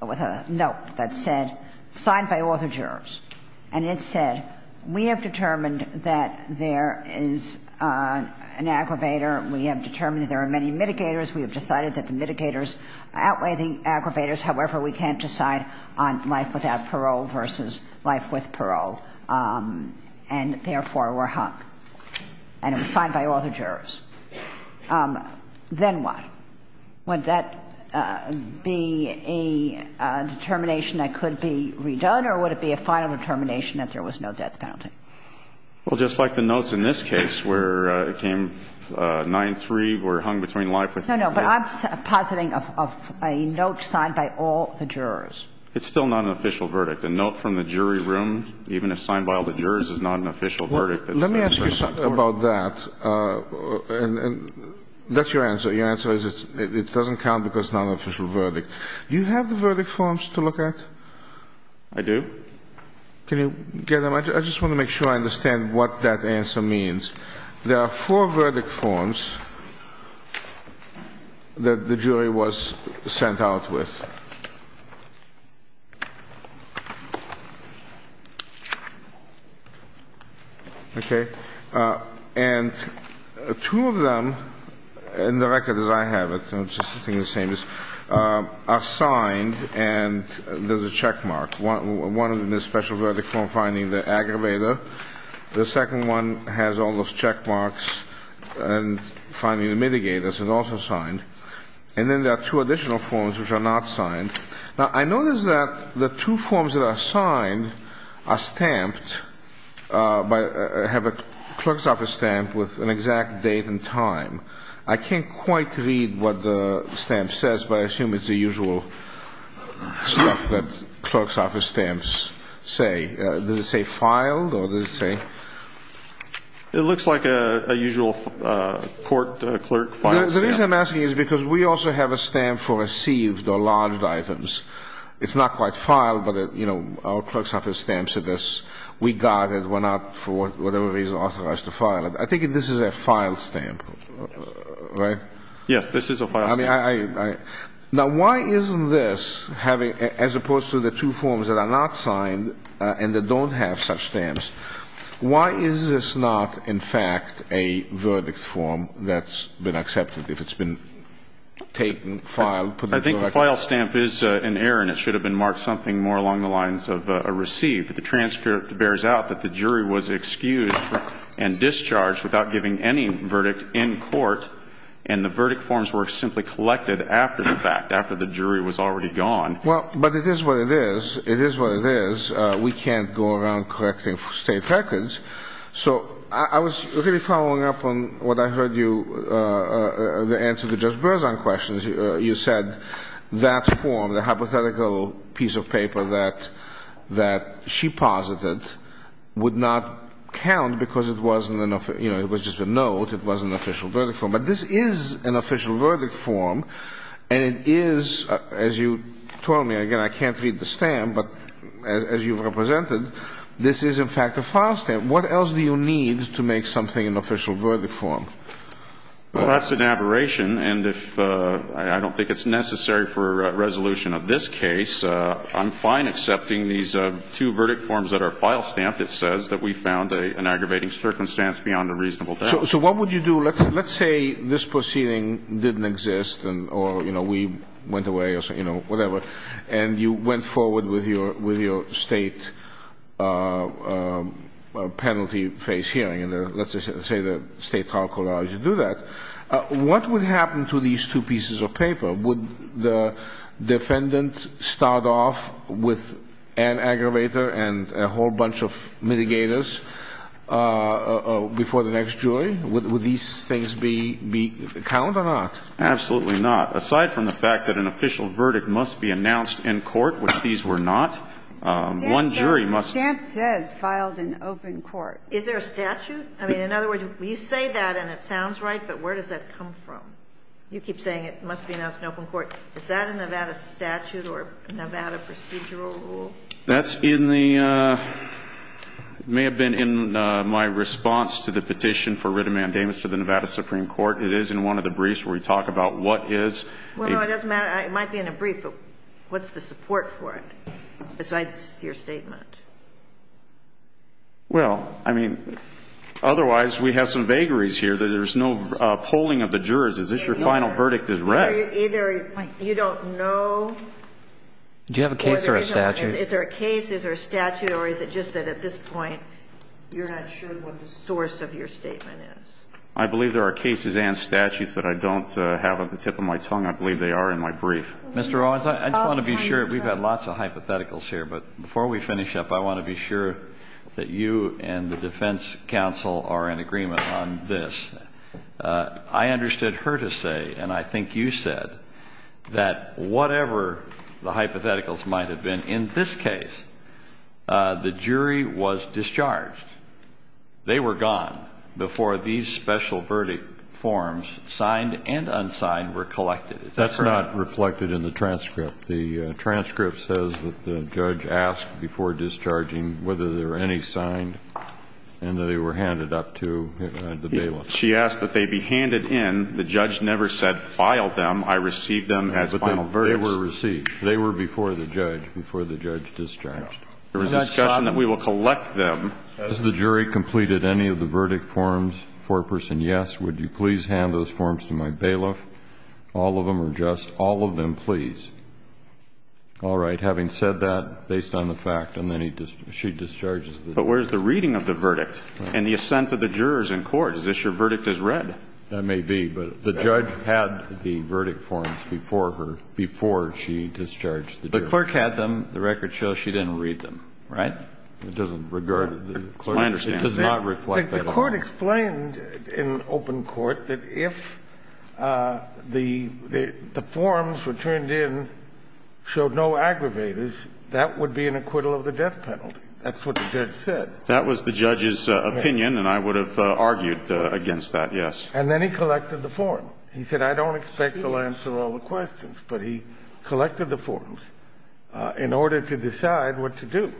with a note that said, signed by all the jurors, and it said, we have determined that there is an aggravator. We have determined there are many mitigators. We have decided that the mitigators outweigh the aggravators. However, we can't decide on life without parole versus life with parole, and therefore we're hung, and it was signed by all the jurors. Then what? Would that be a determination that could be redone, or would it be a final determination if there was no death penalty? Well, just like the notes in this case where it came 9-3, we're hung between life with parole. No, no, but I'm positing a note signed by all the jurors. It's still not an official verdict. A note from the jury room, even if signed by all the jurors, is not an official verdict. Let me ask you something about that, and that's your answer. Your answer is it doesn't count because it's not an official verdict. Do you have the verdict forms to look at? I do. Can you get them? I just want to make sure I understand what that answer means. There are four verdict forms that the jury was sent out with. Okay. And two of them in the record, as I have it, are signed and there's a checkmark. One of them is a special verdict form finding the aggravator. The second one has all those checkmarks and finding the mitigators, and also signed. And then there are two additional forms which are not signed. Now, I notice that the two forms that are signed are stamped, have a clerk's office stamp with an exact date and time. I can't quite read what the stamp says, but I assume it's the usual stuff that clerk's office stamps say. Does it say filed or does it say? It looks like a usual court clerk file. The reason I'm asking is because we also have a stamp for received or lodged items. It's not quite filed, but our clerk's office stamps are this. We got it, went out, for whatever reason, authorized to file it. I think this is a filed stamp, right? Yes, this is a filed stamp. Now, why isn't this, as opposed to the two forms that are not signed and that don't have such stamps, why is this not, in fact, a verdict form that's been accepted if it's been taken, filed? I think the file stamp is an error, and it should have been marked something more along the lines of received. The transfer bears out that the jury was excused and discharged without giving any verdict in court, and the verdict forms were simply collected after the fact, after the jury was already gone. Well, but it is what it is. It is what it is. We can't go around collecting state records. So I was really following up on what I heard you, the answer to Judge Berzon's question. You said that form, the hypothetical piece of paper that she posited, would not count because it was just a note. It wasn't an official verdict form. But this is an official verdict form, and it is, as you told me, again, I can't read the stamp, but as you've represented, this is, in fact, a file stamp. What else do you need to make something an official verdict form? Well, that's an aberration, and I don't think it's necessary for a resolution of this case. I'm fine accepting these two verdict forms that are file stamped. It says that we found an aggravating circumstance beyond a reasonable doubt. So what would you do? Let's say this proceeding didn't exist, or, you know, we went away or whatever, and you went forward with your state penalty phase hearing, let's say the state trial court allows you to do that. What would happen to these two pieces of paper? Would the defendant start off with an aggravator and a whole bunch of mitigators before the next jury? Would these things count or not? Absolutely not. Aside from the fact that an official verdict must be announced in court, which these were not, one jury must be. Stamp says filed in open court. Is there a statute? I mean, in other words, you say that and it sounds right, but where does that come from? You keep saying it must be announced in open court. Is that a Nevada statute or a Nevada procedural rule? That may have been in my response to the petition for writ of mandamus to the Nevada Supreme Court. It is in one of the briefs where we talk about what is. Well, no, it doesn't matter. It might be in a brief, but what's the support for it besides your statement? Well, I mean, otherwise we have some vagaries here that there's no polling of the jurors. Is this your final verdict is right? Either you don't know. Do you have a case or a statute? Is there a case, is there a statute, or is it just that at this point you're not sure what the source of your statement is? I believe there are cases and statutes that I don't have at the tip of my tongue. I believe they are in my brief. Mr. Owens, I just want to be sure. We've got lots of hypotheticals here, but before we finish up, I want to be sure that you and the defense counsel are in agreement on this. I understood her to say, and I think you said, that whatever the hypotheticals might have been in this case, the jury was discharged. They were gone before these special verdict forms, signed and unsigned, were collected. That's not reflected in the transcript. The transcript says that the judge asked before discharging whether there were any signed and that they were handed up to the bailiff. She asked that they be handed in. The judge never said, file them. I received them as final verdicts. They were received. They were before the judge, before the judge discharged. There was a discussion that we will collect them. Has the jury completed any of the verdict forms for a person? Yes. Would you please hand those forms to my bailiff? All of them are addressed. All of them, please. All right. Having said that, based on the fact, and then she discharges them. But where's the reading of the verdict and the assent of the jurors in court? Is this your verdict as read? That may be, but the judge had the verdict forms before she discharged the jurors. The court had them. The record shows she didn't read them, right? It doesn't regard it. I understand. It does not reflect that. The court explained in open court that if the forms were turned in, showed no aggravators, that would be an acquittal of the death penalty. That's what the judge said. That was the judge's opinion, and I would have argued against that, yes. And then he collected the form. He said, I don't expect to answer all the questions, but he collected the forms in order to decide what to do.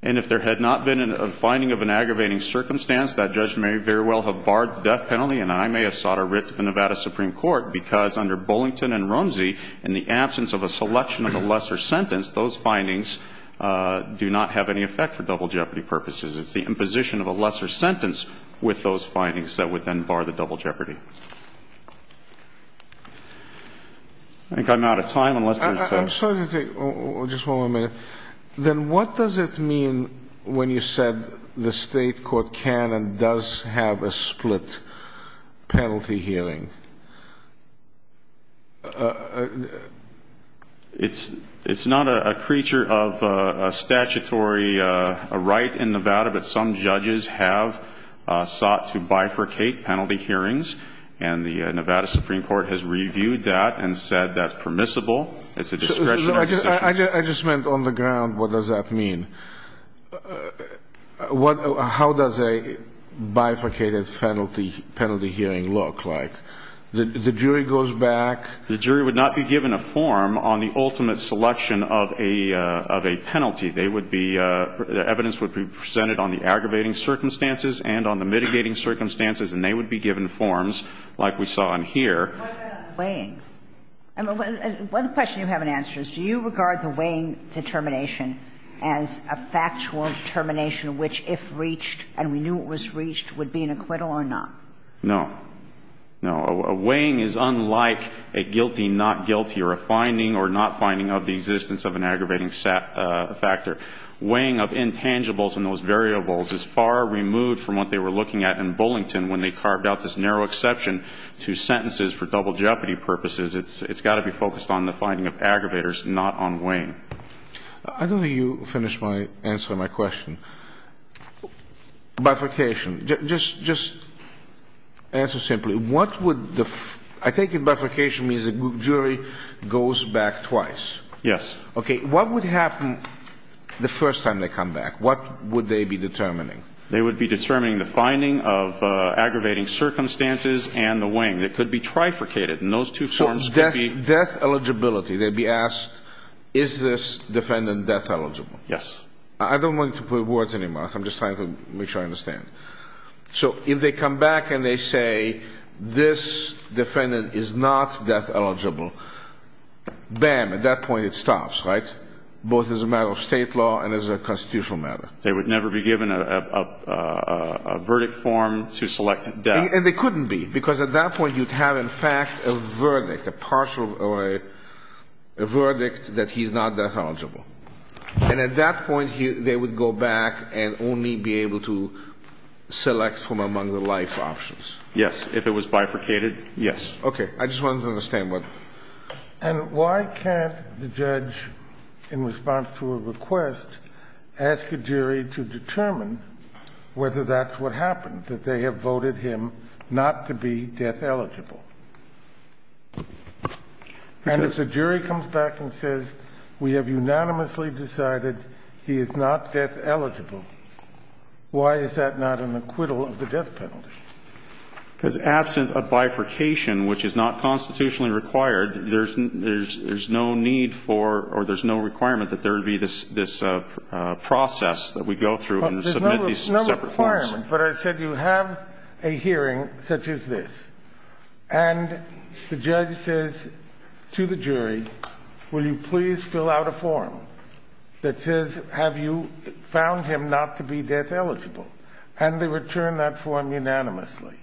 And if there had not been a finding of an aggravating circumstance, that judge may very well have barred the death penalty, and I may have sought a writ to the Nevada Supreme Court, because under Bullington and Rumsey, in the absence of a selection of a lesser sentence, those findings do not have any effect for double jeopardy purposes. It's the imposition of a lesser sentence with those findings that would then bar the double jeopardy. I think I'm out of time. I'm sorry to take just one more minute. Then what does it mean when you said the state court can and does have a split penalty hearing? It's not a creature of statutory right in Nevada, but some judges have sought to bifurcate penalty hearings, and the Nevada Supreme Court has reviewed that and said that's permissible. I just meant on the ground, what does that mean? How does a bifurcated penalty hearing look like? The jury goes back? The jury would not be given a form on the ultimate selection of a penalty. Evidence would be presented on the aggravating circumstances and on the mitigating circumstances, and they would be given forms like we saw in here. One question you haven't answered is, do you regard the weighing determination as a factual determination which if reached, and we knew it was reached, would be an acquittal or not? No. A weighing is unlike a guilty, not guilty, or a finding or not finding of the existence of an aggravating factor. Weighing of intangibles and those variables is far removed from what they were looking at in Bullington when they carved out this narrow exception to sentences for double jeopardy purposes. It's got to be focused on the finding of aggravators, not on weighing. I don't think you finished answering my question. Bifurcation, just answer simply. I think bifurcation means the jury goes back twice. Yes. Okay, what would happen the first time they come back? What would they be determining? They would be determining the finding of aggravating circumstances and the weighing. It could be trifurcated, and those two terms could be... Death eligibility. They'd be asked, is this defendant death eligible? Yes. I don't want to put words in your mouth. I'm just trying to make sure I understand. If they come back and they say, this defendant is not death eligible, bam, at that point it stops, right? Both as a matter of state law and as a constitutional matter. They would never be given a verdict form to select death. And they couldn't be, because at that point you'd have, in fact, a verdict, a partial or a verdict that he's not death eligible. And at that point they would go back and only be able to select from among the life options. Yes, if it was bifurcated, yes. Okay, I just wanted to understand that. And why can't the judge, in response to a request, ask a jury to determine whether that's what happened, that they have voted him not to be death eligible? And if the jury comes back and says, we have unanimously decided he is not death eligible, why is that not an acquittal of the death penalty? Because absent a bifurcation, which is not constitutionally required, there's no need for or there's no requirement that there be this process that we go through and submit these separate forms. There's no requirement, but I said you have a hearing such as this. And the judge says to the jury, will you please fill out a form that says, have you found him not to be death eligible? And they return that form unanimously.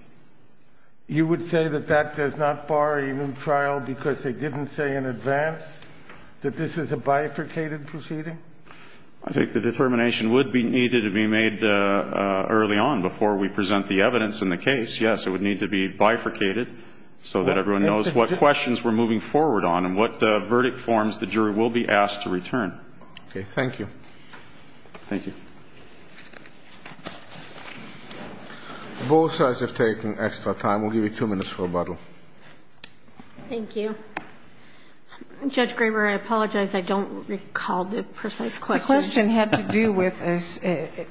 You would say that that does not bar a new trial because they didn't say in advance that this is a bifurcated proceeding? I think the determination would be needed to be made early on before we present the evidence in the case. Yes, it would need to be bifurcated so that everyone knows what questions we're moving forward on and what verdict forms the jury will be asked to return. Okay, thank you. Thank you. Both sides have taken extra time. We'll give you two minutes for rebuttal. Thank you. Judge Graber, I apologize. I don't recall the precise question. The question had to do with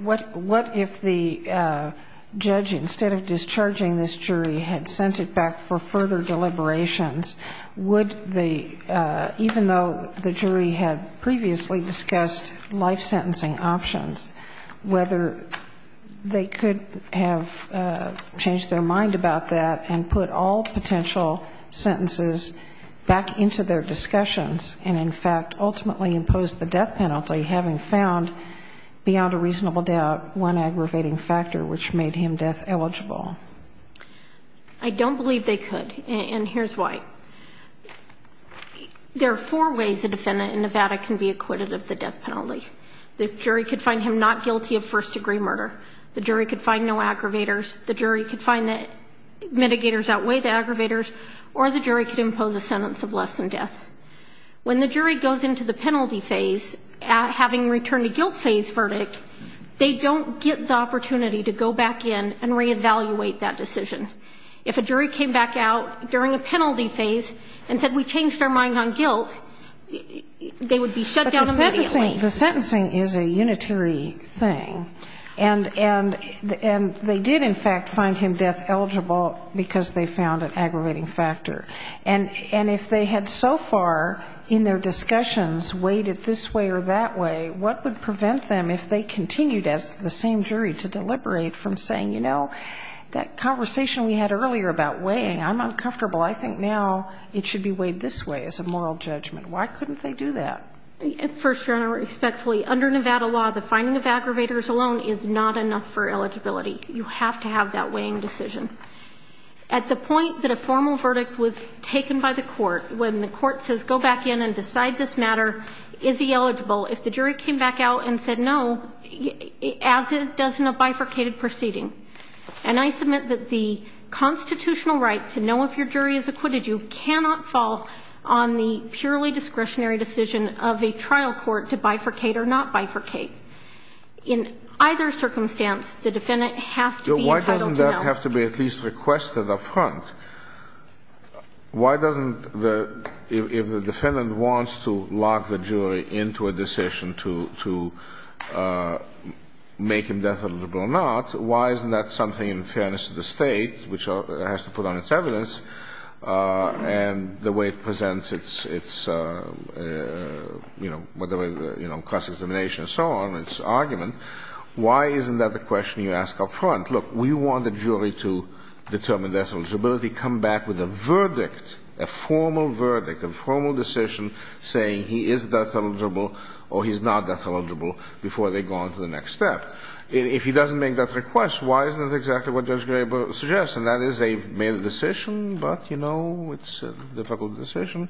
what if the judge, instead of discharging this jury, had sent it back for further deliberations? Even though the jury had previously discussed life sentencing options, whether they could have changed their mind about that and put all potential sentences back into their discussions and, in fact, ultimately impose the death penalty, having found beyond a reasonable doubt one aggravating factor which made him death eligible? I don't believe they could, and here's why. There are four ways the defendant in Nevada can be acquitted of the death penalty. The jury could find him not guilty of first-degree murder. The jury could find no aggravators. The jury could find that mitigators outweigh the aggravators, or the jury could impose a sentence of less than death. When the jury goes into the penalty phase, having returned a guilt phase verdict, they don't get the opportunity to go back in and re-evaluate that decision. If a jury came back out during a penalty phase and said, we changed our mind on guilt, they would be shut down immediately. The sentencing is a unitary thing, and they did, in fact, find him death eligible because they found an aggravating factor. And if they had so far in their discussions weighed it this way or that way, what would prevent them, if they continued as the same jury, to deliberate from saying, you know, that conversation we had earlier about weighing, I'm uncomfortable, I think now it should be weighed this way as a moral judgment. Why couldn't they do that? First, under Nevada law, the finding of aggravators alone is not enough for eligibility. You have to have that weighing decision. At the point that a formal verdict was taken by the court, when the court says, go back in and decide this matter, is he eligible? If the jury came back out and said no, as it does in a bifurcated proceeding. And I submit that the constitutional right to know if your jury is acquitted, you cannot fall on the purely discretionary decision of a trial court to bifurcate or not bifurcate. In either circumstance, the defendant has to be entitled to know. Why doesn't that have to be at least requested up front? Why doesn't the, if the defendant wants to lock the jury into a decision to make him eligible or not, why isn't that something in fairness to the state, which has to put on its evidence, and the way it presents its, whether it's cross-examination and so on, its argument, why isn't that the question you ask up front? Look, we want the jury to determine their eligibility, come back with a verdict, a formal verdict, a formal decision saying he is death eligible or he's not death eligible before they go on to the next step. If he doesn't make that request, why isn't it exactly what Judge Gabel suggested? Yes, and that is they've made a decision, but, you know, it's a difficult decision.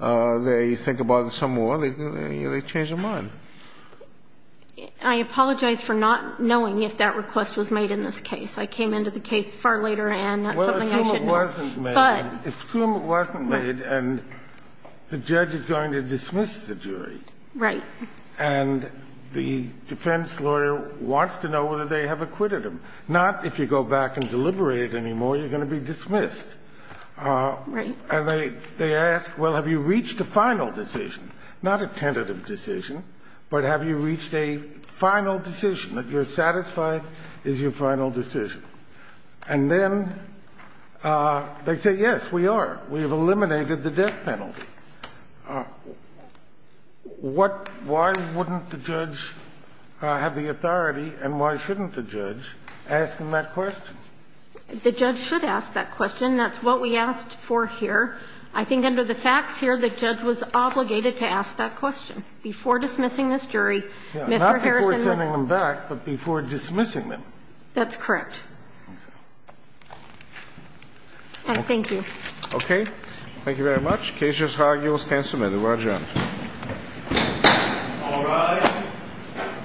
They think about it some more. They change their mind. I apologize for not knowing if that request was made in this case. I came into the case far later, and that's something I should know. Well, assume it wasn't made. But... Assume it wasn't made, and the judge is going to dismiss the jury. Right. And the defense lawyer wants to know whether they have acquitted him. Not, if you go back and deliberate anymore, you're going to be dismissed. Right. And they ask, well, have you reached a final decision? Not a tentative decision, but have you reached a final decision, that you're satisfied is your final decision? And then they say, yes, we are. We have eliminated the death penalty. Why wouldn't the judge have the authority, and why shouldn't the judge, ask them that question? The judge should ask that question. That's what we asked for here. I think under the facts here, the judge was obligated to ask that question before dismissing this jury. Not before sending them back, but before dismissing them. That's correct. Thank you. Okay. Thank you very much. Case is argued, stand submitted. Roger. All rise.